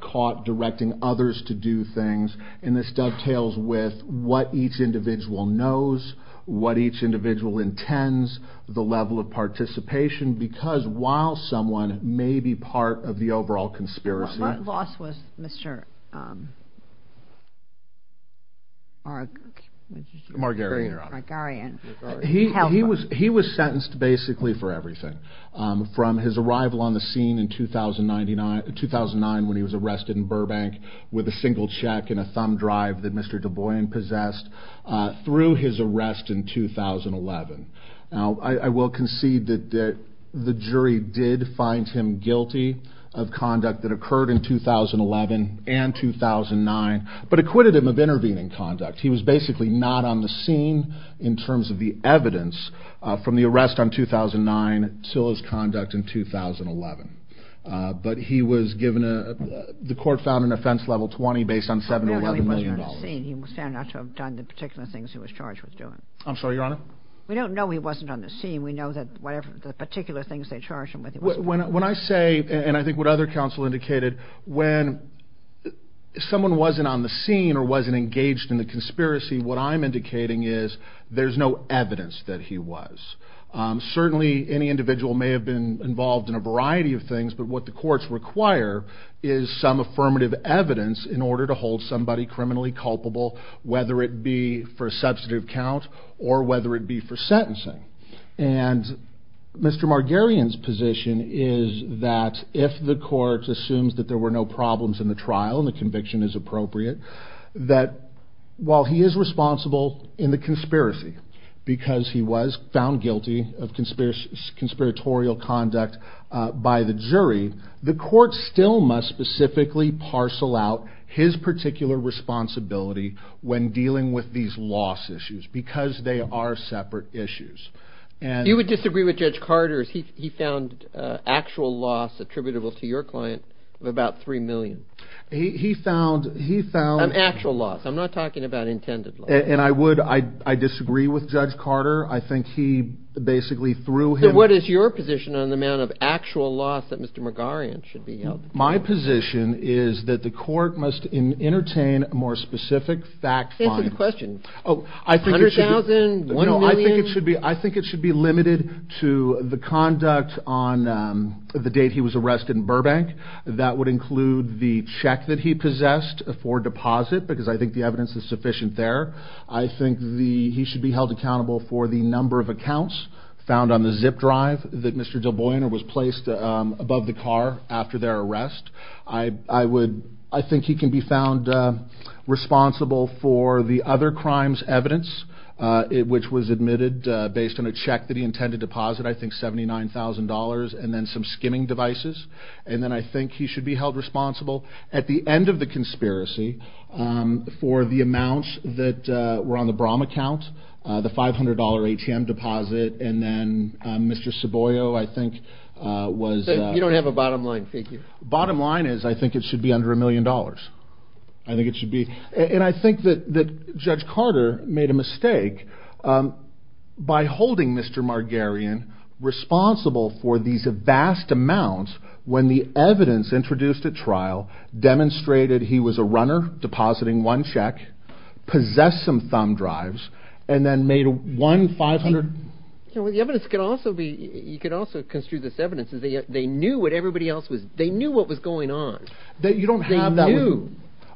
caught directing others to do things. And this dovetails with what each individual knows, what each individual intends, the level of participation, because while someone may be part of the overall conspiracy. My boss was Mr. Margarian. He was sentenced basically for everything. From his arrival on the scene in 2009 when he was arrested in Burbank with a single check and a thumb drive that Mr. DeBoyan possessed through his arrest in 2011. Now, I will concede that the jury did find him guilty of conduct that occurred in 2011 and 2009, but acquitted him of intervening conduct. He was basically not on the scene in terms of the evidence from the arrest on 2009, Silla's conduct in 2011. But he was given a, the court found an offense level 20 based on $7,100,000. He was not on the scene. He was found not to have done the particular things he was charged with doing. I'm sorry, Your Honor? We don't know he wasn't on the scene. We know that whatever the particular things they charged him with. When I say, and I think what other counsel indicated, when someone wasn't on the scene or wasn't engaged in the conspiracy, what I'm indicating is there's no evidence that he was. Certainly any individual may have been involved in a variety of things, but what the courts require is some affirmative evidence in order to hold somebody criminally culpable, whether it be for a substantive count or whether it be for sentencing. And Mr. Margarian's position is that if the court assumes that there were no problems in the trial and the conviction is appropriate, that while he is responsible in the conspiracy because he was found guilty of conspiratorial conduct by the jury, the court still must specifically parcel out his particular responsibility when dealing with these loss issues because they are separate issues. You would disagree with Judge Carter if he found actual loss attributable to your client of about $3 million. He found... An actual loss. I'm not talking about intended loss. And I would, I disagree with Judge Carter. I think he basically threw him... What is your position on the amount of actual loss that Mr. Margarian should be held? My position is that the court must entertain a more specific fact find. Think of the question. Oh, I think it should be... $100,000, $1 million? I think it should be limited to the conduct on the date he was arrested in Burbank. That would include the check that he possessed for deposit because I think the evidence is sufficient there. I think he should be held accountable for the number of accounts found on the zip drive that Mr. Del Boiner was placed above the car after their arrest. I think he can be found responsible for the other crimes evidence, which was admitted based on the check that he intended to deposit, I think $79,000, and then some skimming devices. And then I think he should be held responsible at the end of the conspiracy for the amounts that were on the Brahm account, the $500 ATM deposit. And then Mr. Saboio, I think was... You don't have a bottom line, thank you. Bottom line is I think it should be under a million dollars. I think it should be. And I think that Judge Carter made a mistake by holding Mr. Margarian responsible for these vast amounts when the evidence introduced at trial demonstrated he was a runner, depositing one check, possessed some thumb drives, and then made one $500... So the evidence could also be... You could also construe this evidence as they knew what everybody else was... They knew what was going on. That you don't have to. They knew.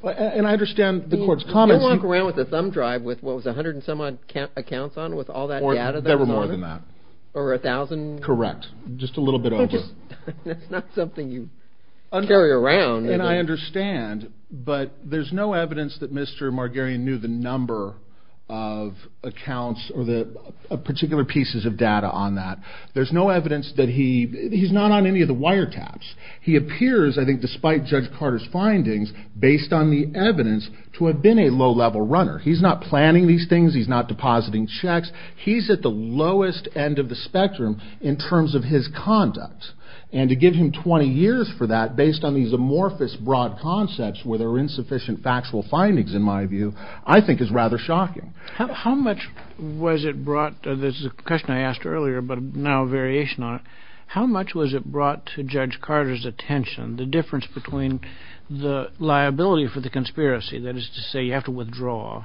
And I understand the court's comments. They walk around with a thumb drive with what was 100 and some odd accounts on with all that data. There were more than that. Over a thousand? Correct. Just a little bit over. Okay. Not something you carry around. And I understand. But there's no evidence that Mr. Margarian knew the number of accounts or the particular pieces of data on that. There's no evidence that he... He's not on any of the wiretaps. He appears, I think, despite Judge Carter's findings, based on the evidence, to have been a low-level runner. He's not planning these things. He's not depositing checks. He's at the lowest end of the spectrum. In terms of his conduct. And to give him 20 years for that, based on these amorphous broad concepts, where there are insufficient factual findings, in my view, I think is rather shocking. How much was it brought... This is a question I asked earlier, but now a variation on it. How much was it brought to Judge Carter's attention? The difference between the liability for the conspiracy, that is to say, you have to withdraw,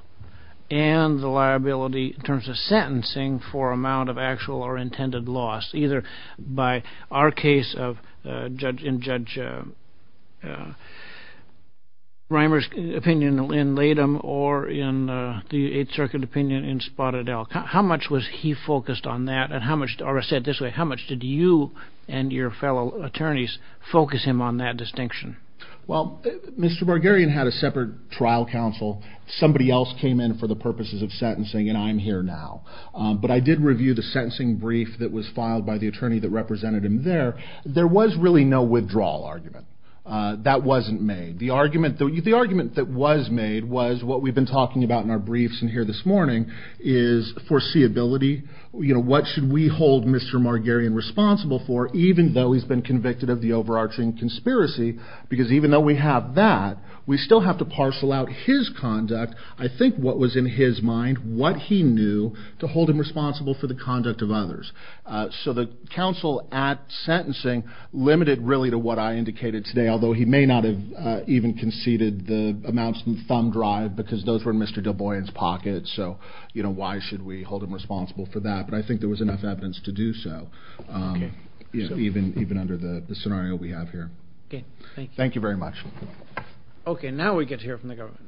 and the liability in terms of sentencing for amount of actual or intended loss, either by our case of Judge... In Judge Reimer's opinion in Latham, or in the Eighth Circuit opinion in Spotted Elk. How much was he focused on that? And how much... Or I'll say it this way. How much did you and your fellow attorneys focus him on that distinction? Well, Mr. Bargarian had a separate trial counsel. Somebody else came in for the purposes of sentencing, and I'm here now. But I did review the sentencing brief that was filed by the attorney that represented him there. There was really no withdrawal argument. That wasn't made. The argument that was made was what we've been talking about in our briefs in here this morning is foreseeability. What should we hold Mr. Bargarian responsible for, even though he's been convicted of the overarching conspiracy? Because even though we have that, we still have to parcel out his conduct. I think what was in his mind, what he knew to hold him responsible for the conduct of others. So the counsel at sentencing limited really to what I indicated today, although he may not have even conceded the amounts in the thumb drive because those were in Mr. DuBois's pocket. So, you know, why should we hold him responsible for that? But I think there was enough evidence to do so, even under the scenario we have here. Thank you very much. Okay. Now we get to hear from the government.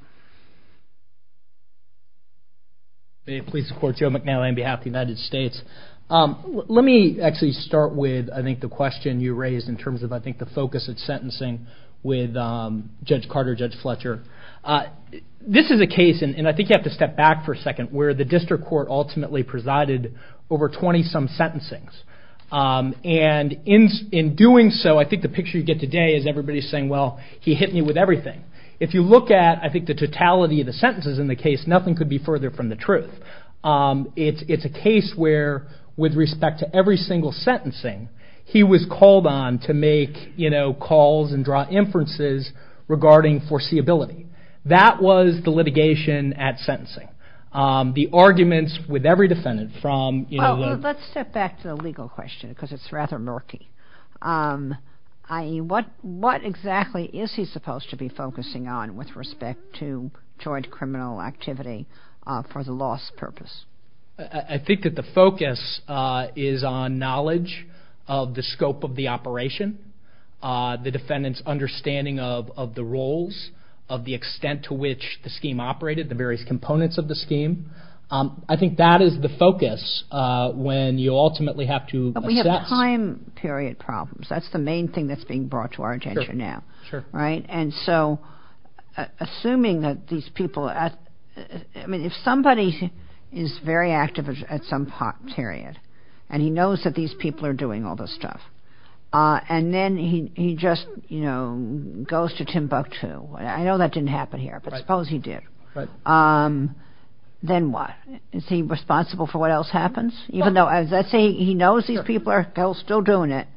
Please support Joe McNeil on behalf of the United States. Let me actually start with, I think, the question you raised in terms of, I think, the focus of sentencing with Judge Carter, Judge Fletcher. This is a case, and I think you have to step back for a second, where the district court ultimately presided over 20-some sentencings. And in doing so, I think the picture you get today is everybody saying, well, he hit me with everything. If you look at, I think, the totality of the sentences in the case, nothing could be further from the truth. It's a case where, with respect to every single sentencing, he was called on to make, you know, calls and draw inferences regarding foreseeability. That was the litigation at sentencing. The arguments with every defendant from, you know, the- Let's step back to the legal question because it's rather murky. I.e., what exactly is he supposed to be focusing on with respect to criminal activity for the loss purpose? I think that the focus is on knowledge of the scope of the operation, the defendant's understanding of the roles, of the extent to which the scheme operated, the various components of the scheme. I think that is the focus when you ultimately have to assess- But we have time period problems. That's the main thing that's being brought to our attention now, right? And so, assuming that these people- I mean, if somebody is very active at some part, period, and he knows that these people are doing all this stuff, and then he just, you know, goes to Timbuktu- I know that didn't happen here, but suppose he did. Then what? Is he responsible for what else happens? he knows these people are still doing it,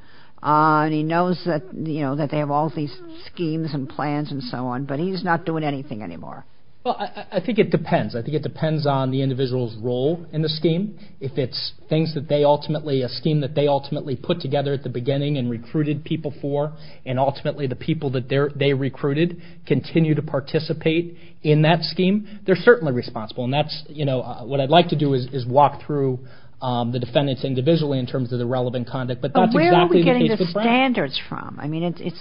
and he knows that, you know, that they have all these schemes and plans and so on, but he's not doing anything anymore. Well, I think it depends. I think it depends on the individual's role in the scheme. If it's things that they ultimately- a scheme that they ultimately put together at the beginning and recruited people for, and ultimately the people that they recruited continue to participate in that scheme, they're certainly responsible. And that's, you know, what I'd like to do is walk through the defendants individually in terms of the relevant conduct. But that's exactly what- But where are we getting the standards from? I mean, if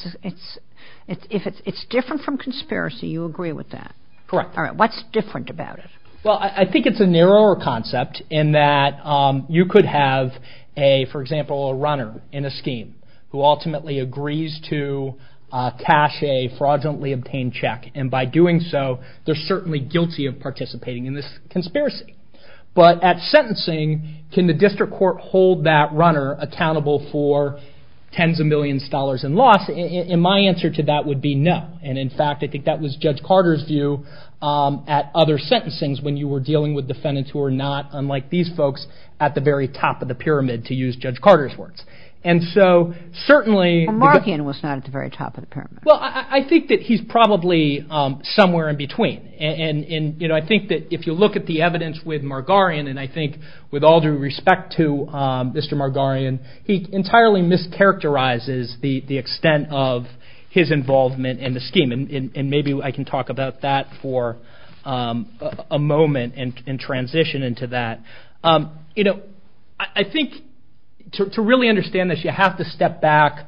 it's different from conspiracy, you agree with that? Correct. All right, what's different about it? Well, I think it's a narrower concept in that you could have a, for example, a runner in a scheme who ultimately agrees to cash a fraudulently obtained check. And by doing so, they're certainly guilty of participating in this conspiracy. But at sentencing, can the district court hold that runner accountable for tens of millions of dollars in loss? And my answer to that would be no. And in fact, I think that was Judge Carter's view at other sentencings when you were dealing with defendants who are not, unlike these folks, at the very top of the pyramid, to use Judge Carter's words. And so certainly- And Markian was not at the very top of the pyramid. Well, I think that he's probably somewhere in between. And, you know, I think that if you look at the evidence with Margarian, and I think with all due respect to Mr. Margarian, he entirely mischaracterizes the extent of his involvement in the scheme. And maybe I can talk about that for a moment and transition into that. You know, I think to really understand this, you have to step back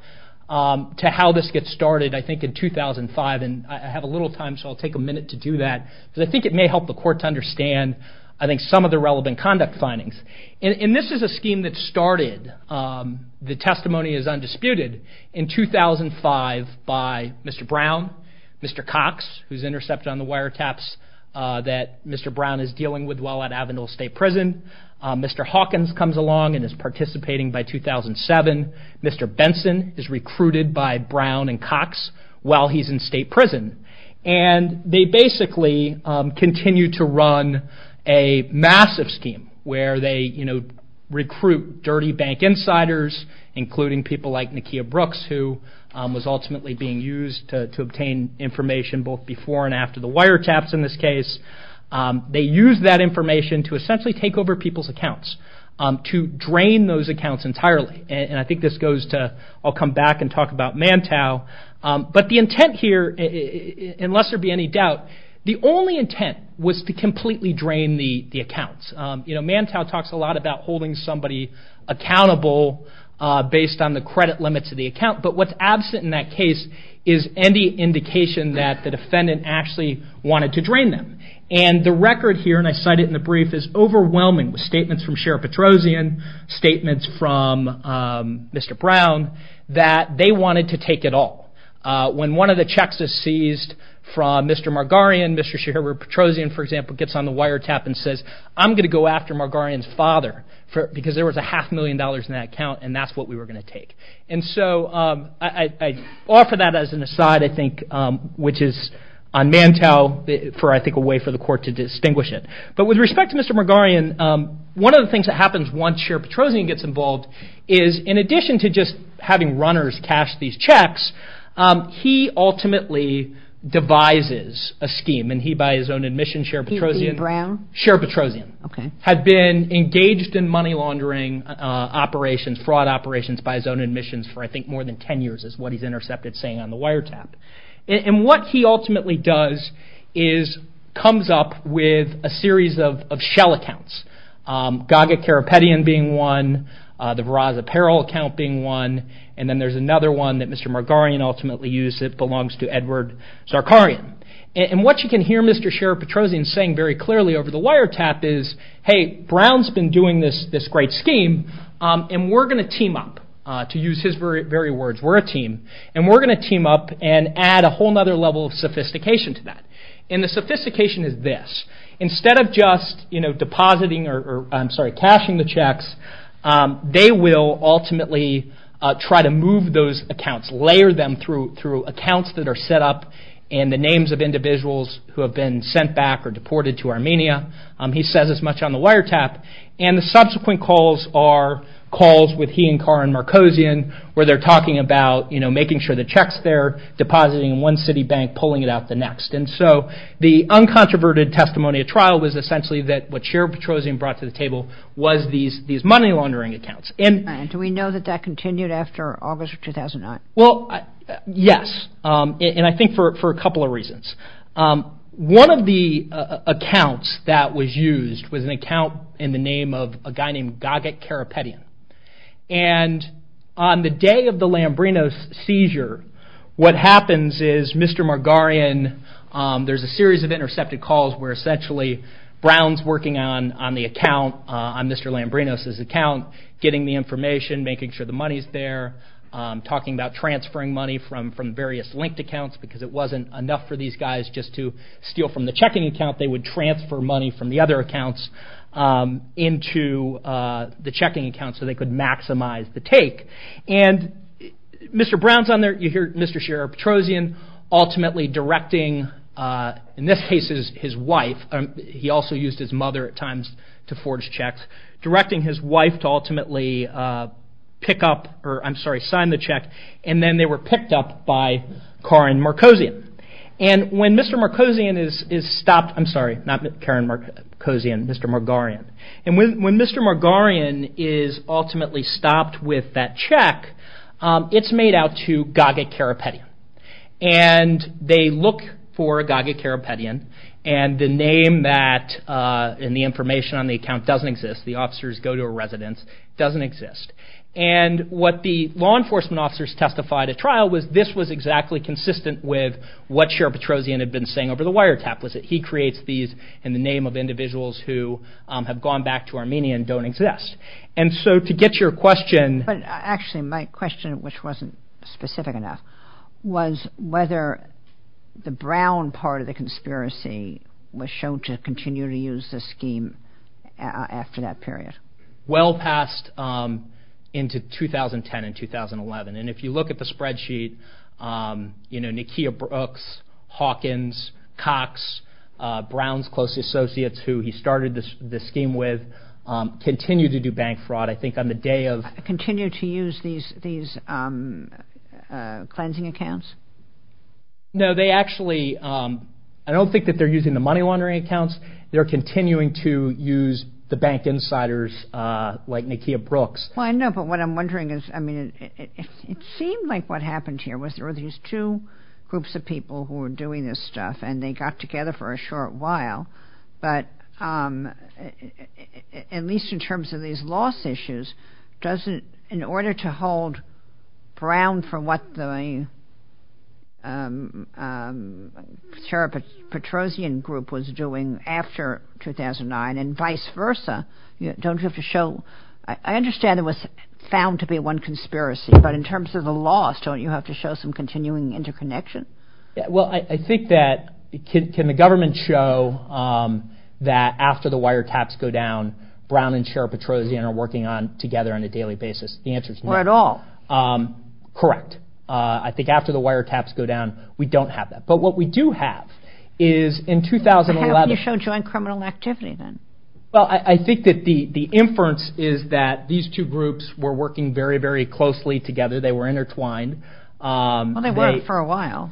to how this gets started, I think, in 2005. And I have a little time, so I'll take a minute to do that. But I think it may help the court to understand, I think, some of the relevant conduct findings. And this is a scheme that started, the testimony is undisputed, in 2005 by Mr. Brown, Mr. Cox, who's intercepted on the wiretaps that Mr. Brown is dealing with while at Avondale State Prison. Mr. Hawkins comes along and is participating by 2007. Mr. Benson is recruited by Brown and Cox while he's in state prison. And they basically continue to run a massive scheme where they recruit dirty bank insiders, including people like Nakia Brooks, who was ultimately being used to obtain information both before and after the wiretaps in this case. They use that information to essentially take over people's accounts, to drain those accounts entirely. And I think this goes to, I'll come back and talk about MANTOW. unless there'd be any doubt, the only intent was to completely drain the accounts. MANTOW talks a lot about holding somebody accountable based on the credit limits of the account. But what's absent in that case is any indication that the defendant actually wanted to drain them. And the record here, and I cite it in the brief, is overwhelming with statements from Sheriff Petrosian, statements from Mr. Brown, that they wanted to take it all. When one of the checks is seized from Mr. Margarian, Mr. Petrosian, for example, gets on the wiretap and says, I'm gonna go after Margarian's father because there was a half million dollars in that account and that's what we were gonna take. And so I offer that as an aside, I think, which is on MANTOW for, I think, a way for the court to distinguish it. But with respect to Mr. Margarian, one of the things that happens once Sheriff Petrosian gets involved is in addition to just having runners cash these checks, he ultimately devises a scheme and he by his own admission, Sheriff Petrosian, Sheriff Petrosian, had been engaged in money laundering operations, fraud operations by his own admissions for, I think, more than 10 years is what he's intercepted saying on the wiretap. And what he ultimately does is comes up with a series of shell accounts, Gaga Carapetian being one, the Veraz Apparel account being one, and then there's another one that Mr. Margarian ultimately used that belongs to Edward Zarkarian. And what you can hear Mr. Sheriff Petrosian saying very clearly over the wiretap is, hey, Brown's been doing this great scheme and we're gonna team up, to use his very words, we're a team, and we're gonna team up and add a whole nother level of sophistication to that. And the sophistication is this, instead of just depositing or, I'm sorry, cashing the checks, they will ultimately try to move those accounts, layer them through accounts that are set up in the names of individuals who have been sent back or deported to Armenia. He says as much on the wiretap. And the subsequent calls are calls with he and Carr and Markosian where they're talking about, making sure the checks they're depositing in one city bank, pulling it out the next. And so the uncontroverted testimony at trial was essentially that what Sheriff Petrosian brought to the table was these money laundering accounts. And- Do we know that that continued after August of 2009? Well, yes. And I think for a couple of reasons. One of the accounts that was used was an account in the name of a guy named Gaget Karapetian. And on the day of the Lambrinos seizure, what happens is Mr. Margarian, there's a series of intercepted calls where essentially Brown's working on the account, on Mr. Lambrinos' account, getting the information, making sure the money's there, talking about transferring money from various linked accounts because it wasn't enough for these guys just to steal from the checking account. They would transfer money from the other accounts into the checking account so they could maximize the take. And Mr. Brown's on there, you hear Mr. Sheriff Petrosian ultimately directing, in this case, his wife, he also used his mother at times to forge checks, directing his wife to ultimately pick up, or I'm sorry, sign the check. And then they were picked up by Karin Markosian. And when Mr. Markosian is stopped, I'm sorry, not Karin Markosian, Mr. Margarian. And when Mr. Margarian is ultimately stopped with that check, it's made out to Gaget Karapetian. And they look for Gaget Karapetian and the name that, and the information on the account doesn't exist, the officers go to a residence, doesn't exist. And what the law enforcement officers testified at trial was this was exactly consistent with what Sheriff Petrosian had been saying over the wiretap was that he creates these in the name of individuals who have gone back to Armenia and don't exist. And so to get your question. But actually my question, which wasn't specific enough, was whether the Brown part of the conspiracy was shown to continue to use this scheme after that period. Well past into 2010 and 2011. And if you look at the spreadsheet, you know, Nakia Brooks, Hawkins, Cox, Brown's closest associates who he started this scheme with, continue to do bank fraud. I think on the day of... Continue to use these cleansing accounts? No, they actually, I don't think that they're using the money laundering accounts. They're continuing to use the bank insiders like Nakia Brooks. Well, I know, but what I'm wondering is, it seemed like what happened here was there were these two groups of people who were doing this stuff and they got together for a short while. But at least in terms of these loss issues, in order to hold Brown for what the Petrosian group was doing after 2009 and vice versa, don't have to show... I understand it was found to be one conspiracy, but in terms of the loss, don't you have to show some continuing interconnection? Well, I think that, can the government show that after the wiretaps go down, Brown and Sheriff Petrosian are working on together on a daily basis? The answer is no. Or at all. Correct. I think after the wiretaps go down, we don't have that. But what we do have is in 2011... How can you show joint criminal activity then? Well, I think that the inference is that these two groups were working very, very closely together. They were intertwined. Well, they worked for a while.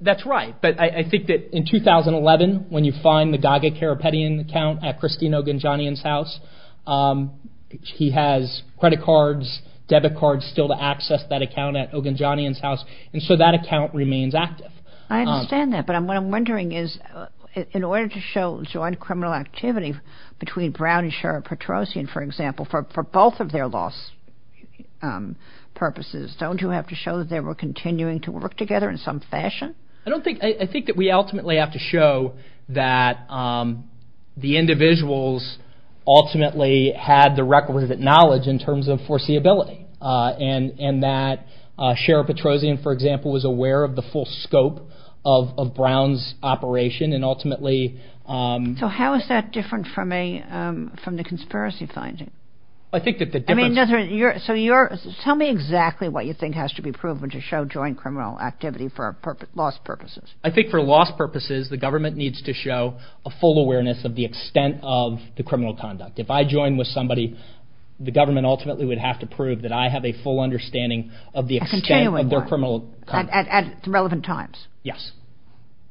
That's right. But I think that in 2011, when you find the Daga Karapetian account at Christine Ogunjanian's house, he has credit cards, debit cards still to access that account at Ogunjanian's house. And so that account remains active. I understand that. But what I'm wondering is in order to show joint criminal activity between Brown and Sheriff Petrosian, for example, for both of their loss purposes, don't you have to show that they were continuing to work together in some fashion? I don't think... I think that we ultimately have to show that the individuals ultimately had the requisite knowledge in terms of foreseeability. And that Sheriff Petrosian, for example, was aware of the full scope of Brown's operation. And ultimately... So how is that different from the conspiracy finding? I think that the difference... So tell me exactly what you think has to be proven to show joint criminal activity for loss purposes. I think for loss purposes, the government needs to show a full awareness of the extent of the criminal conduct. If I join with somebody, the government ultimately would have to prove that I have a full understanding of the extent of their criminal... At relevant times? Yes.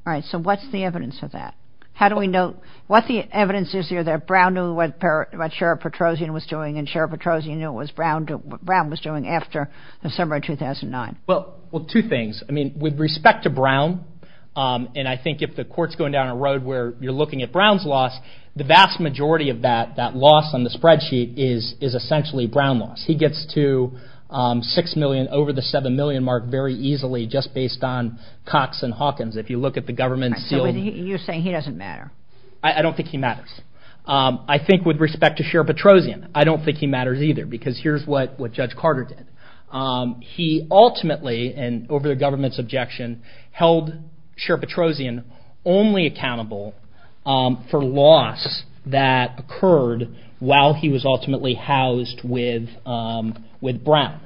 All right. So what's the evidence of that? How do we know... What the evidence is here that Brown knew what Sheriff Petrosian was doing and Sheriff Petrosian knew what Brown was doing after December 2009? Well, two things. I mean, with respect to Brown, and I think if the court's going down a road where you're looking at Brown's loss, the vast majority of that, that loss on the spreadsheet is essentially Brown loss. He gets to 6 million, over the 7 million mark very easily If you look at the government... You're saying he doesn't matter? I don't think he matters. I think with respect to Sheriff Petrosian, I don't think he matters either because here's what Judge Carter did. He ultimately, and over the government's objection, held Sheriff Petrosian only accountable for loss that occurred while he was ultimately housed with Brown.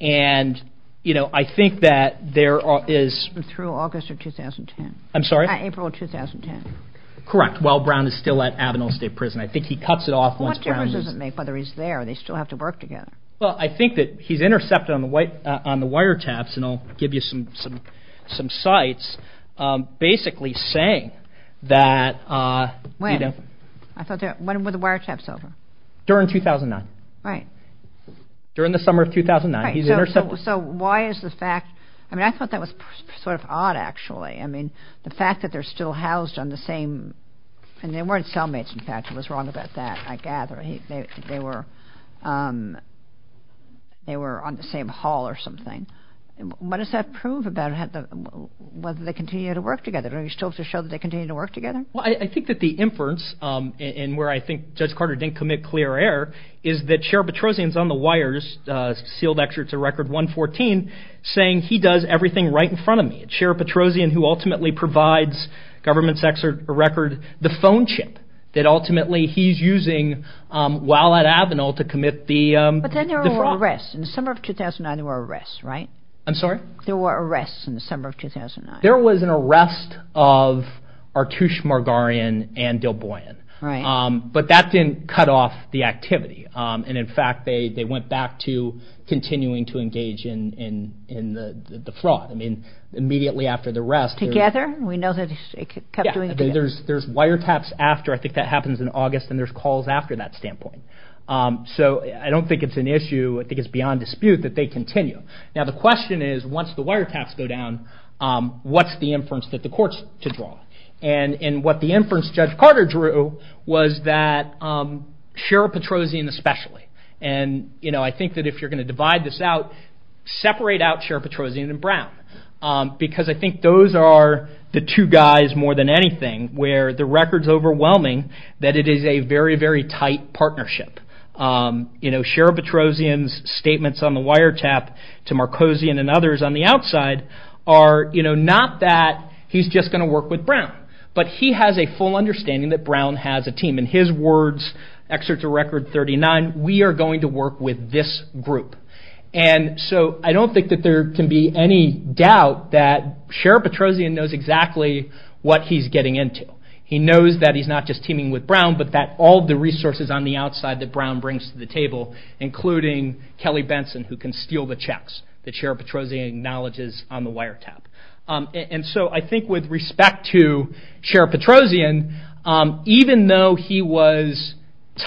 And I think that there is... Through August of 2010. I'm sorry? April of 2010. Correct. While Brown is still at Abeno State Prison. I think he cuts it off once Brown... What difference does it make whether he's there? They still have to work together. Well, I think that he's intercepted on the wiretaps, and I'll give you some sights, basically saying that... When? When were the wiretaps over? During 2009. Right. During the summer of 2009, he's intercepted... So why is the fact... I mean, I thought that was sort of odd, actually. I mean, the fact that they're still housed on the same... I mean, they weren't cellmates, in fact. I was wrong about that. I gather they were... They were on the same hall or something. What does that prove about whether they continue to work together? Are you still to show that they continue to work together? Well, I think that the inference, and where I think Judge Carter didn't commit clear error, is that Sheriff Petrosian's on the wires, sealed excerpts of Record 114, saying he does everything right in front of me. Sheriff Petrosian, who ultimately provides government's record, the phone chip that ultimately he's using while at Abeno to commit the fraud. But then there were arrests. In the summer of 2009, there were arrests, right? I'm sorry? There were arrests in the summer of 2009. There was an arrest of Artush Margarian and Del Boyan. Right. But that didn't cut off the activity. And in fact, they went back to continuing to engage in the fraud. I mean, immediately after the arrest. Together? We know that they kept doing it together. There's wiretaps after. I think that happens in August. And there's calls after that standpoint. So I don't think it's an issue. I think it's beyond dispute that they continue. Now, the question is, once the wiretaps go down, what's the inference that the court's to draw? And what the inference Judge Carter drew was that Sheriff Petrosian especially. And I think that if you're going to divide this out, separate out Sheriff Petrosian and Brown. Because I think those are the two guys more than anything, where the record's overwhelming that it is a very, very tight partnership. You know, Sheriff Petrosian's statements on the wiretap to Marcosian and others on the outside are, you know, not that he's just going to work with Brown. But he has a full understanding that Brown has a team. In his words, excerpts of record 39, we are going to work with this group. And so I don't think that there can be any doubt that Sheriff Petrosian knows exactly what he's getting into. He knows that he's not just teaming with Brown, but that all the resources on the outside that Brown brings to the table, including Kelly Benson, who can steal the checks that Sheriff Petrosian acknowledges on the wiretap. And so I think with respect to Sheriff Petrosian, even though he was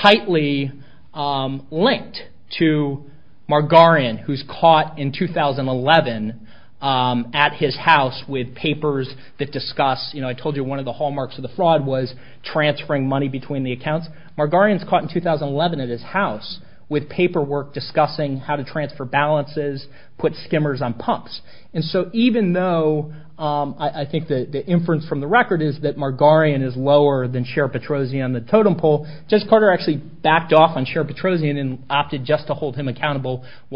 tightly linked to Margarian, who's caught in 2011 at his house with papers that discuss, you know, I told you one of the hallmarks of the fraud was transferring money between the accounts. Margarian's caught in 2011 at his house with paperwork discussing how to transfer balances, put skimmers on pumps. And so even though I think the inference from the record is that Margarian is lower than Sheriff Petrosian on the totem pole, Judge Carter actually backed off on Sheriff Petrosian and opted just to hold him as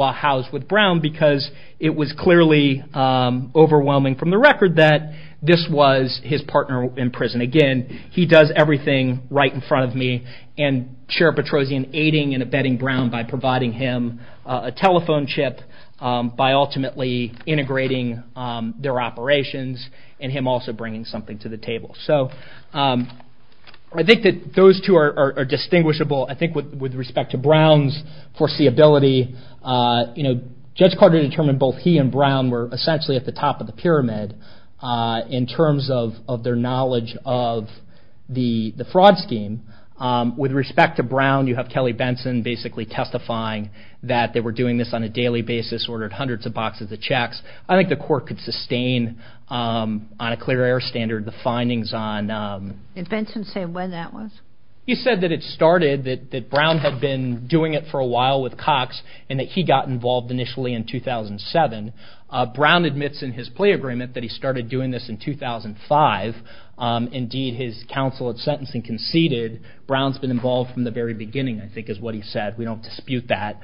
well as with Brown, because it was clearly overwhelming from the record that this was his partner in prison. Again, he does everything right in front of me and Sheriff Petrosian aiding and abetting Brown by providing him a telephone chip by ultimately integrating their operations and him also bringing something to the table. So I think that those two are distinguishable. I think with respect to Brown's foreseeability, Judge Carter determined both he and Brown were essentially at the top of the pyramid in terms of their knowledge of the fraud scheme. With respect to Brown, you have Kelly Benson basically testifying that they were doing this on a daily basis, ordered hundreds of boxes of checks. I think the court could sustain on a clear air standard the findings on... And Benson said when that was? He said that it started, that Brown had been doing it for a while with Cox and that he got involved initially in 2007. Brown admits in his plea agreement that he started doing this in 2005. Indeed, his counsel at sentencing conceded Brown's been involved from the very beginning, I think is what he said. We don't dispute that.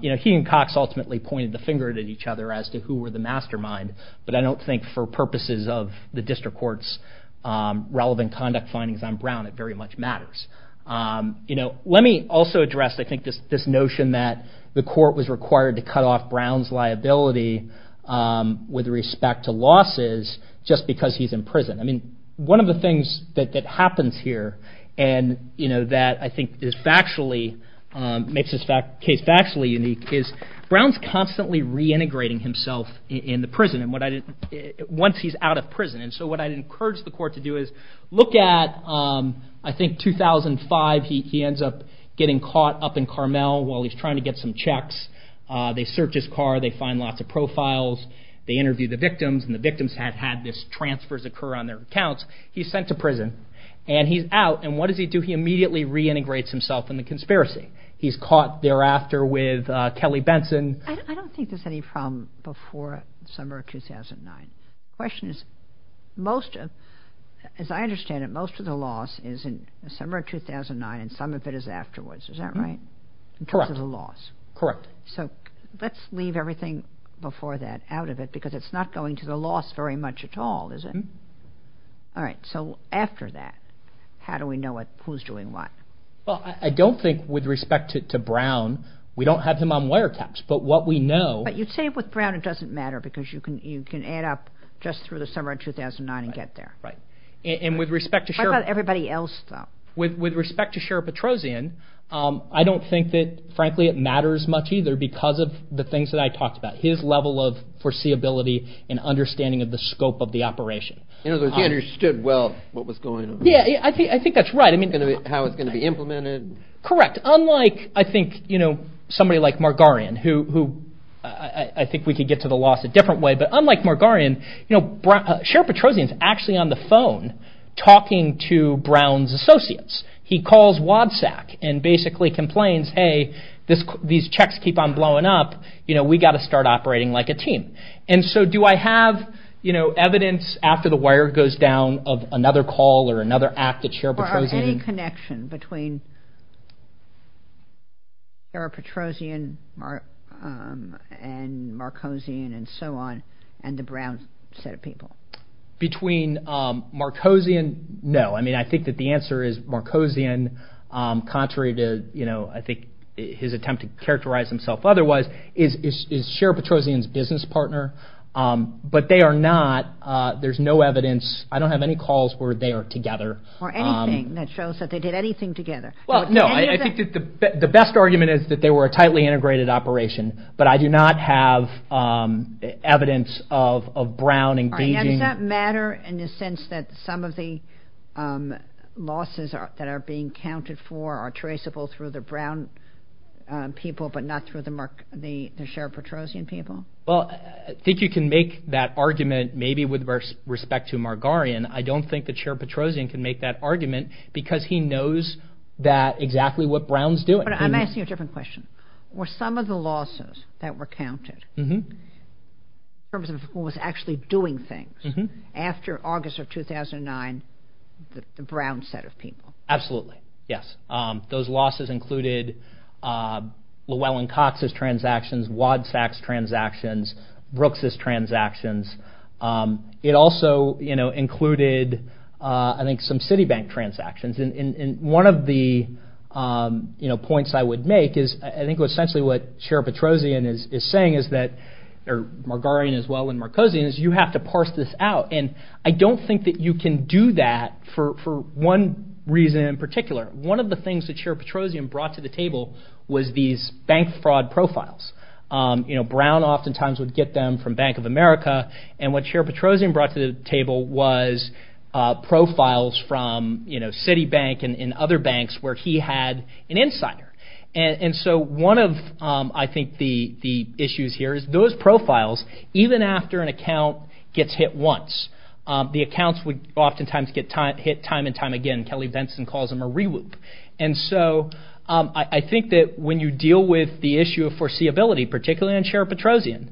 He and Cox ultimately pointed the finger at each other as to who were the mastermind. But I don't think for purposes of the district court's relevant conduct findings on Brown, it very much matters. Let me also address, I think this notion that the court was required to cut off Brown's liability with respect to losses just because he's in prison. I mean, one of the things that happens here and that I think is factually, makes this case factually unique, is Brown's constantly reintegrating himself in the prison once he's out of prison. And so what I'd encourage the court to do is look at, I think 2005, he ends up getting caught up in Carmel while he's trying to get some checks. They search his car. They find lots of profiles. They interview the victims and the victims have had this transfers occur on their accounts. He's sent to prison and he's out. And what does he do? He immediately reintegrates himself in the conspiracy. He's caught thereafter with Kelly Benson. I don't think there's any problem before the summer of 2009. Question is, most of, as I understand it, most of the loss is in the summer of 2009 and some of it is afterwards. Is that right? Correct. Correct. So let's leave everything before that out of it because it's not going to the loss very much at all, is it? All right. So after that, how do we know who's doing what? Well, I don't think with respect to Brown, we don't have him on wiretaps, but what we know. But you'd say with Brown, it doesn't matter because you can add up just through the summer of 2009 and get there. Right. And with respect to everybody else, with respect to Sheriff Petrosian, I don't think that, frankly, it matters much either because of the things that I talked about, his level of foreseeability and understanding of the scope of the operation. You know, he understood well what was going on. Yeah, I think that's right. I mean, how it's going to be implemented. Correct. Unlike, I think, you know, somebody like Margarian, who I think we could get to the loss a different way. But unlike Margarian, you know, Sheriff Petrosian is actually on the phone talking to Brown's associates. He calls WADSAC and basically complains, hey, these checks keep on blowing up. You know, we've got to start operating like a team. And so do I have, you know, evidence after the wire goes down of another call or another act that Sheriff Petrosian... Or any connection between Sheriff Petrosian and Marcosian and so on and the Brown set of people. Between Marcosian? No, I mean, I think that the answer is Marcosian. Contrary to, you know, his attempt to characterize himself otherwise, is Sheriff Petrosian's business partner. But they are not. There's no evidence. I don't have any calls where they are together. Or anything that shows that they did anything together. Well, no, I think the best argument is that they were a tightly integrated operation. But I do not have evidence of Brown engaging... And does that matter in the sense that some of the losses that are being counted for are traceable through the Brown people, but not through the Sheriff Petrosian people? Well, I think you can make that argument, maybe with respect to Margarian. I don't think that Sheriff Petrosian can make that argument because he knows that exactly what Brown's doing. I'm asking a different question. Were some of the losses that were counted in terms of who was actually doing things after August of 2009, the Brown set of people? Absolutely, yes. Those losses included Llewellyn Cox's transactions, Wadsworth's transactions, Brooks's transactions. It also included, I think, some Citibank transactions. And one of the points I would make is, I think essentially what Sheriff Petrosian is saying is that, or Margarian as well, and Marcosian, is you have to parse this out. And I don't think that you can do that for one reason in particular. One of the things that Sheriff Petrosian brought to the table was these bank fraud profiles. Brown oftentimes would get them from Bank of America. And what Sheriff Petrosian brought to the table was profiles from Citibank and other banks where he had an insider. And so one of, I think, the issues here is those profiles, even after an account gets hit once, the accounts would oftentimes get hit time and time again. Kelly Benson calls them a reloop. And so I think that when you deal with the issue of foreseeability, particularly in Sheriff Petrosian,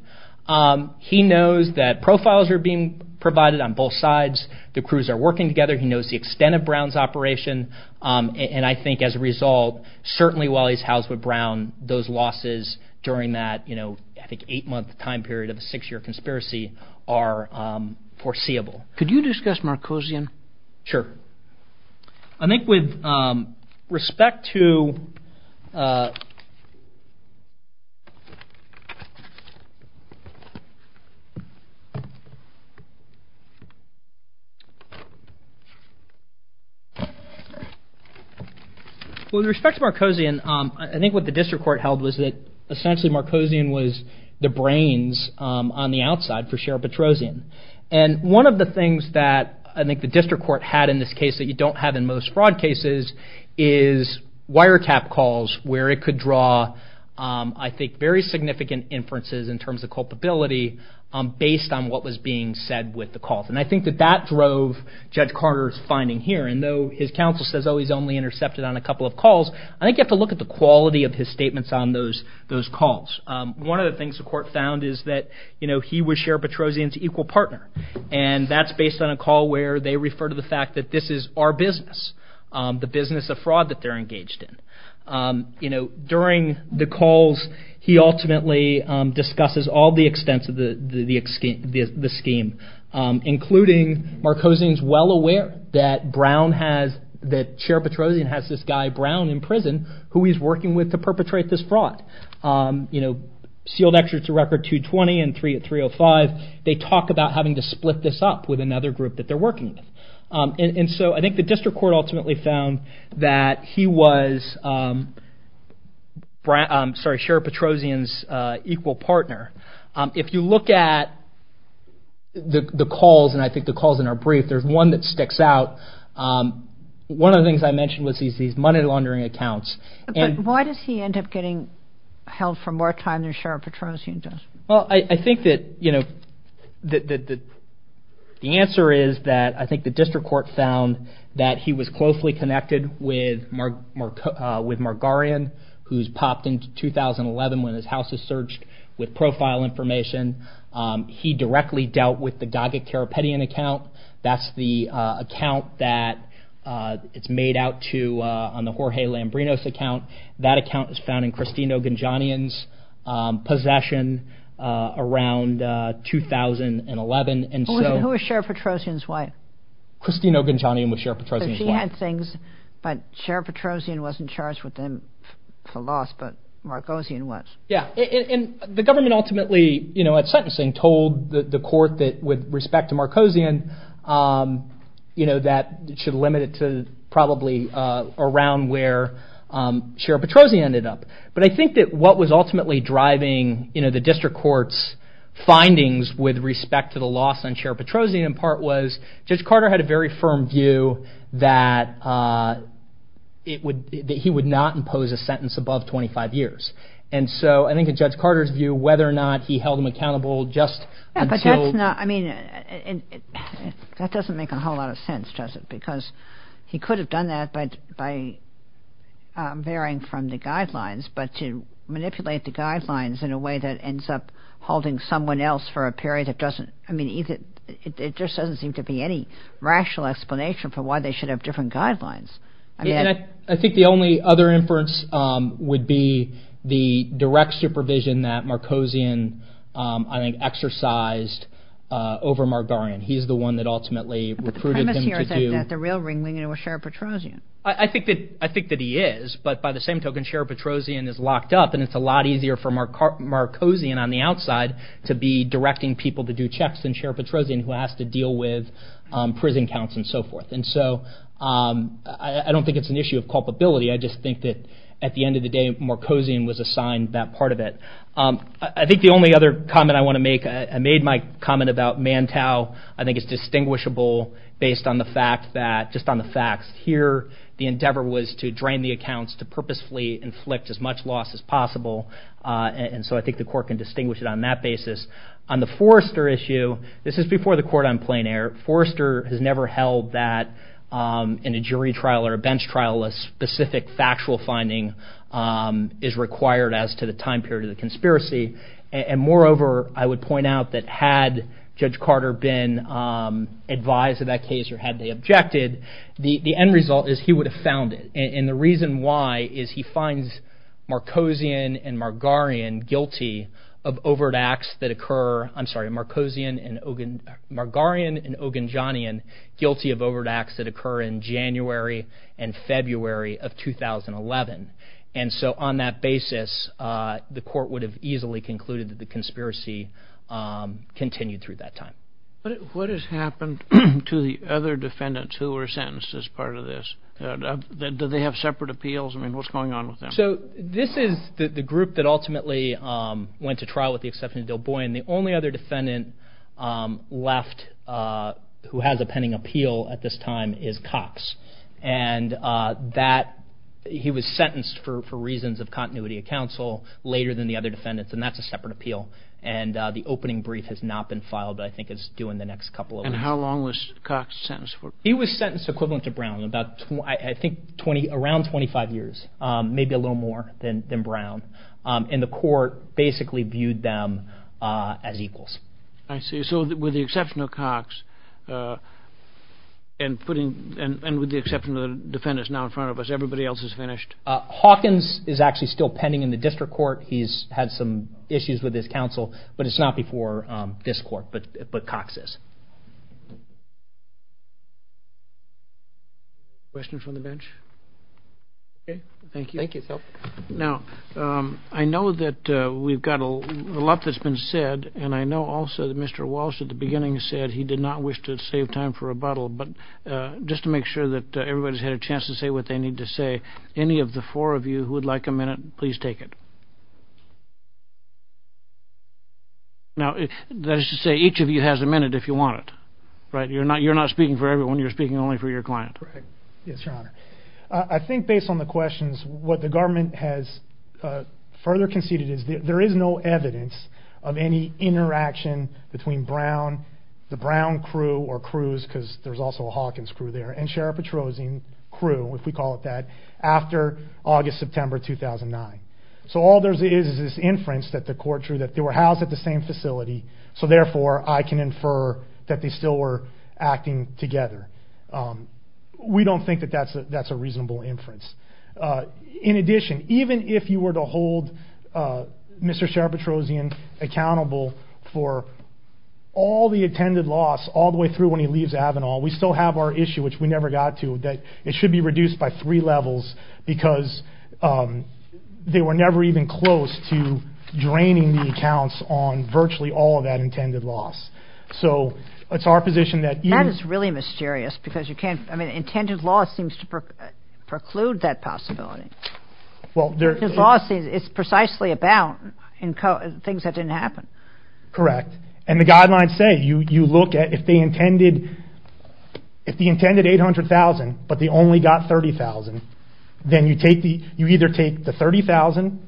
he knows that profiles are being provided on both sides. The crews are working together. He knows the extent of Brown's operation. And I think as a result, certainly while he's housed with Brown, those losses during that, you know, I think eight month time period of a six year conspiracy are foreseeable. Could you discuss Marcosian? Sure. I think with respect to. With respect to Marcosian, I think what the district court held was that essentially Marcosian was the brains on the outside for Sheriff Petrosian. And one of the things that I think the district court had in this case that you don't have in most fraud cases is wiretap calls where it could draw, I think, very significant inferences in terms of culpability based on what was being said with the calls. And I think that that drove Judge Carter's finding here. And though his counsel says, oh, he's only intercepted on a couple of calls. I think you have to look at the quality of his statements on those calls. One of the things the court found is that, you know, he was Sheriff Petrosian's equal partner. And that's based on a call where they refer to the fact that this is our business, the business of fraud that they're engaged in. You know, during the calls, he ultimately discusses all the extents of the scheme, including Marcosian's well aware that Brown has, that Sheriff Petrosian has this guy Brown in prison who he's working with to perpetrate this fraud. You know, sealed extras to record 220 and three at 305. They talk about having to split this up with another group that they're working with. And so I think the district court ultimately found that he was, sorry, Sheriff Petrosian's equal partner. If you look at the calls and I think the calls in our brief, there's one that sticks out. One of the things I mentioned was these money laundering accounts. And why does he end up getting held for more time than Sheriff Petrosian does? Well, I think that, you know, the answer is that I think the district court found that he was closely connected with Margarian, who's popped into 2011 when his house is searched with profile information. He directly dealt with the Gaget-Karapetian account. That's the account that it's made out to on the Jorge Lambrinos account. That account is found in Cristino Gonjonian's possession around 2011. And who is Sheriff Petrosian's wife? Cristino Gonjonian was Sheriff Petrosian's wife. So she had things, but Sheriff Petrosian wasn't charged with them for loss, but Marcosian was. Yeah, and the government ultimately, you know, at sentencing, told the court that with respect to Marcosian, you know, that it should limit it to probably around where Sheriff Petrosian ended up. But I think that what was ultimately driving, you know, the district court's findings with respect to the loss on Sheriff Petrosian in part was Judge Carter had a very firm view that he would not impose a sentence above 25 years. And so I think that Judge Carter's view, whether or not he held him accountable, just until... I mean, that doesn't make a whole lot of sense, does it? Because he could have done that by varying from the guidelines, but to manipulate the guidelines in a way that ends up holding someone else for a period that doesn't, I mean, it just doesn't seem to be any rational explanation for why they should have different guidelines. I think the only other inference would be the direct supervision that Marcosian, I think, exercised over Margarian. He's the one that ultimately recruited him to do... The real ringling was Sheriff Petrosian. I think that he is, but by the same token, Sheriff Petrosian is locked up, and it's a lot easier for Marcosian on the outside to be directing people to do checks than Sheriff Petrosian, who has to deal with prison counts and so forth. And so I don't think it's an issue of culpability. I just think that at the end of the day, Marcosian was assigned that part of it. I think the only other comment I want to make, I made my comment about Mantau. I think it's distinguishable based on the fact that, just on the facts here, the endeavor was to drain the accounts to purposefully inflict as much loss as possible. And so I think the court can distinguish it on that basis. On the Forrester issue, this is before the court on plein air. Forrester has never held that in a jury trial or a bench trial, a specific factual finding is required as to the time period of the conspiracy. And moreover, I would point out that had Judge Carter been advised of that case or had they objected, the end result is he would have found it. And the reason why is he finds Marcosian and Margarian guilty of overt acts that occur, I'm sorry, Marcosian and Margarian and Oganjanian guilty of overt acts that occur in January and February of 2011. And so on that basis, the court would have easily concluded that the conspiracy continued through that time. What has happened to the other defendants who were sentenced as part of this? Do they have separate appeals? I mean, what's going on with them? So this is the group that ultimately went to trial with the exception of Bill Boyan. The only other defendant left who has a pending appeal at this time is Cox. And that he was sentenced for reasons of continuity of counsel later than the other defendants. And that's a separate appeal. And the opening brief has not been filed, but I think it's due in the next couple of weeks. And how long was Cox sentenced for? He was sentenced equivalent to Brown, about I think around 25 years, maybe a little more than Brown. And the court basically viewed them as equals. I see. So with the exception of Cox and with the exception of the defendants now in front of us, everybody else is finished? Hawkins is actually still pending in the district court. He's had some issues with his counsel, but it's not before this court, but Cox is. Questions from the bench? OK, thank you. Thank you, Phil. Now, I know that we've got a lot that's been said, and I know also that Mr. Walsh at the beginning said he did not wish to save time for rebuttal. But just to make sure that everybody's had a chance to say what they need to say, any of the four of you who would like a minute, please take it. Now, that is to say, each of you has a minute if you want it, right? You're not you're not speaking for everyone. You're speaking only for your client, right? Yes, Your Honor. I think based on the questions, what the government has further conceded is there is no evidence of any interaction between Brown, the Brown crew or crews, because there's also a Hawkins crew there, and Sheriff Petrosian crew, if we call it that, after August, September 2009. So all there is is this inference that the court drew that they were housed at the same facility. So therefore, I can infer that they still were acting together. We don't think that that's a reasonable inference. In addition, even if you were to hold Mr. Sheriff Petrosian accountable for all the intended loss all the way through when he leaves Avenal, we still have our issue, which we never got to, that it should be reduced by three levels because they were never even close to draining the accounts on virtually all of that intended loss. So it's our position that. That is really mysterious because you can't, I mean, intended loss seems to preclude that possibility. Well, there's. His loss is precisely about things that didn't happen. Correct. And the guidelines say you look at if they intended, if they intended $800,000, but they only got $30,000, then you take the, you either take the $30,000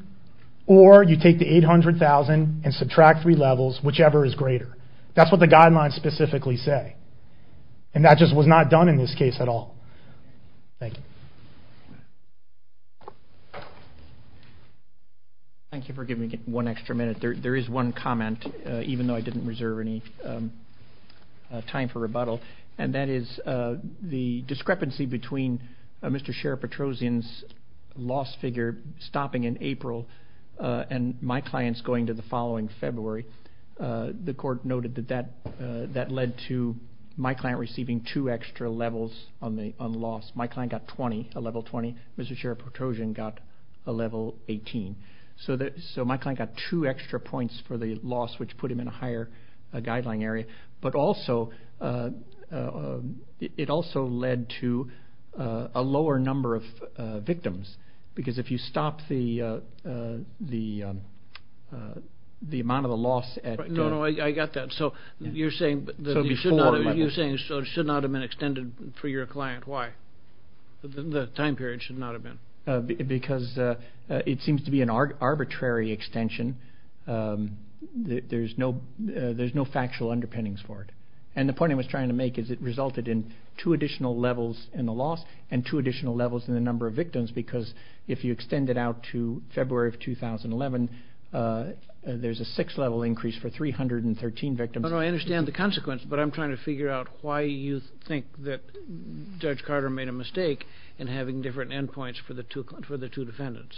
or you take the $800,000 and subtract three levels, whichever is greater. That's what the guidelines specifically say. And that just was not done in this case at all. Thank you. Thank you for giving me one extra minute. There is one comment, even though I didn't reserve any time for rebuttal. And that is the discrepancy between Mr. Sheriff Petrosian's loss figure stopping in April and my clients going to the following February. The court noted that, that led to my client receiving two extra levels on the on loss. My client got 20, a level 20. Mr. Sheriff Petrosian got a level 18. So that, so my client got two extra points for the loss, which put him in a higher guideline area, but also it also led to a lower number of victims because if you stop the, the amount of the loss. No, no, I got that. So you're saying, you're saying, so it should not have been extended for your client. Why? The time period should not have been. Because it seems to be an arbitrary extension. There's no, there's no factual underpinnings for it. And the point I was trying to make is it resulted in two additional levels in the loss and two additional levels in the number of victims. Because if you extend it out to February of 2011, there's a six level increase for 313 victims. I understand the consequence, but I'm trying to figure out why you think that Judge Carter made a mistake in having different endpoints for the two, for the two defendants.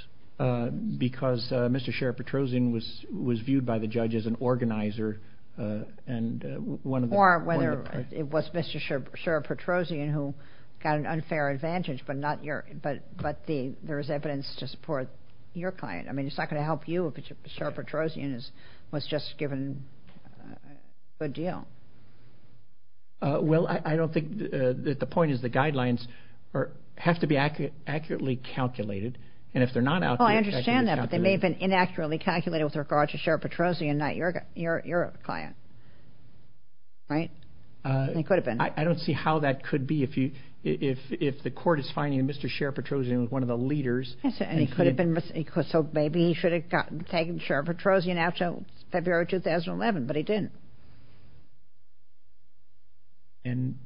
Because Mr. Sheriff Petrosian was, was viewed by the judge as an organizer and one of the. Or whether it was Mr. Sheriff Petrosian who got an unfair advantage, but not your, but, but the, there's evidence to support your client. I mean, it's not going to help you if Sheriff Petrosian is, was just given a good deal. Well, I don't think that the point is the guidelines are, have to be accurate, accurately calculated. And if they're not out, I understand that they may have been inaccurately calculated with regards to Sheriff Petrosian, not your, your client. Right, he could have been. I don't see how that could be. If you, if, if the court is finding Mr. Sheriff Petrosian was one of the leaders. He could have been, so maybe he should have gotten taken Sheriff Petrosian after February 2011, but he didn't. And,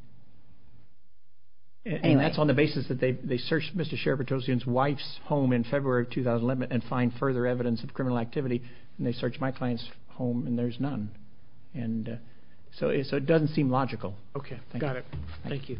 and that's on the basis that they, they searched Mr. Sheriff Petrosian's wife's home in February of 2011 and find further evidence of criminal activity. And they searched my client's home and there's none. And so, so it doesn't seem logical. Okay, got it. Thank you.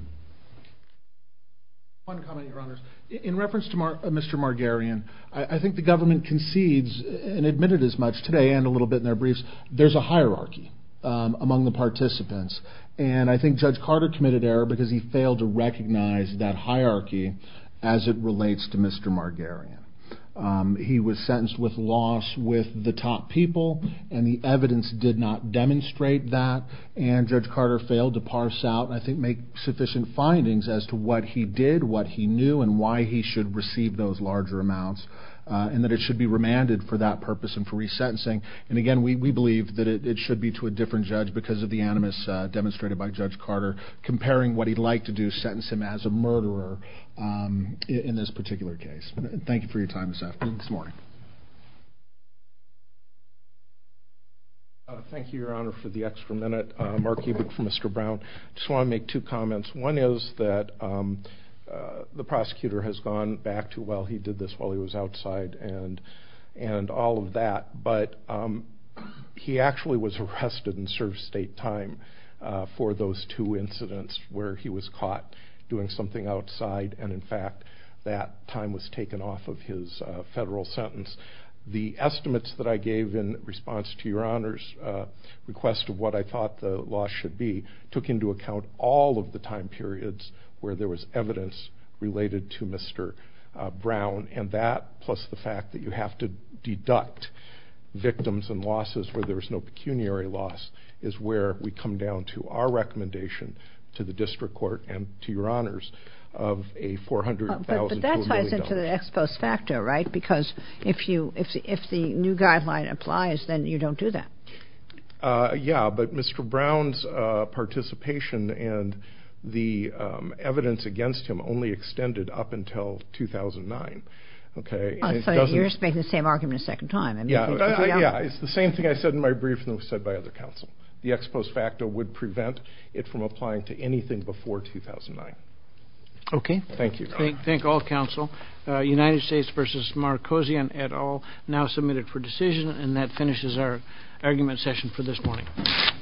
One comment, Your Honors. In reference to Mr. Margarian, I think the government concedes and admitted as much today and a little bit in their briefs, there's a hierarchy among the participants. And I think Judge Carter committed error because he failed to recognize that hierarchy as it relates to Mr. Margarian. He was sentenced with loss with the top people and the evidence did not demonstrate that. And Judge Carter failed to parse out, I think, make sufficient findings as to what he did, what he knew, and why he should receive those larger amounts and that it should be remanded for that purpose and for resentencing. And again, we believe that it should be to a different judge because of the animus demonstrated by Judge Carter comparing what he'd like to do, sentence him as a murderer in this particular case. Thank you for your time this morning. Thank you, Your Honor, for the extra minute. Mark Kubrick for Mr. Brown. Just want to make two comments. One is that the prosecutor has gone back to, well, he did this while he was outside and all of that. But he actually was arrested and served state time for those two incidents where he was caught doing something outside. And in fact, that time was taken off of his federal sentence. The estimates that I gave in response to Your Honor's request of what I thought the loss should be took into account all of the time periods where there was evidence related to Mr. Brown. And that, plus the fact that you have to deduct victims and losses where there is no pecuniary loss is where we come down to our recommendation to the district court and to Your Honors of a $400,000... But that ties into the expose factor, right? Because if the new guideline applies, then you don't do that. Yeah, but Mr. Brown's participation and the evidence against him only extended up until 2009. So you're just making the same argument a second time. Yeah, it's the same thing I said in my brief and was said by other counsel. The expose factor would prevent it from applying to anything before 2009. Okay, thank you. Thank all counsel. United States v. Marcosian et al. Now submitted for decision. And that finishes our argument session for this morning.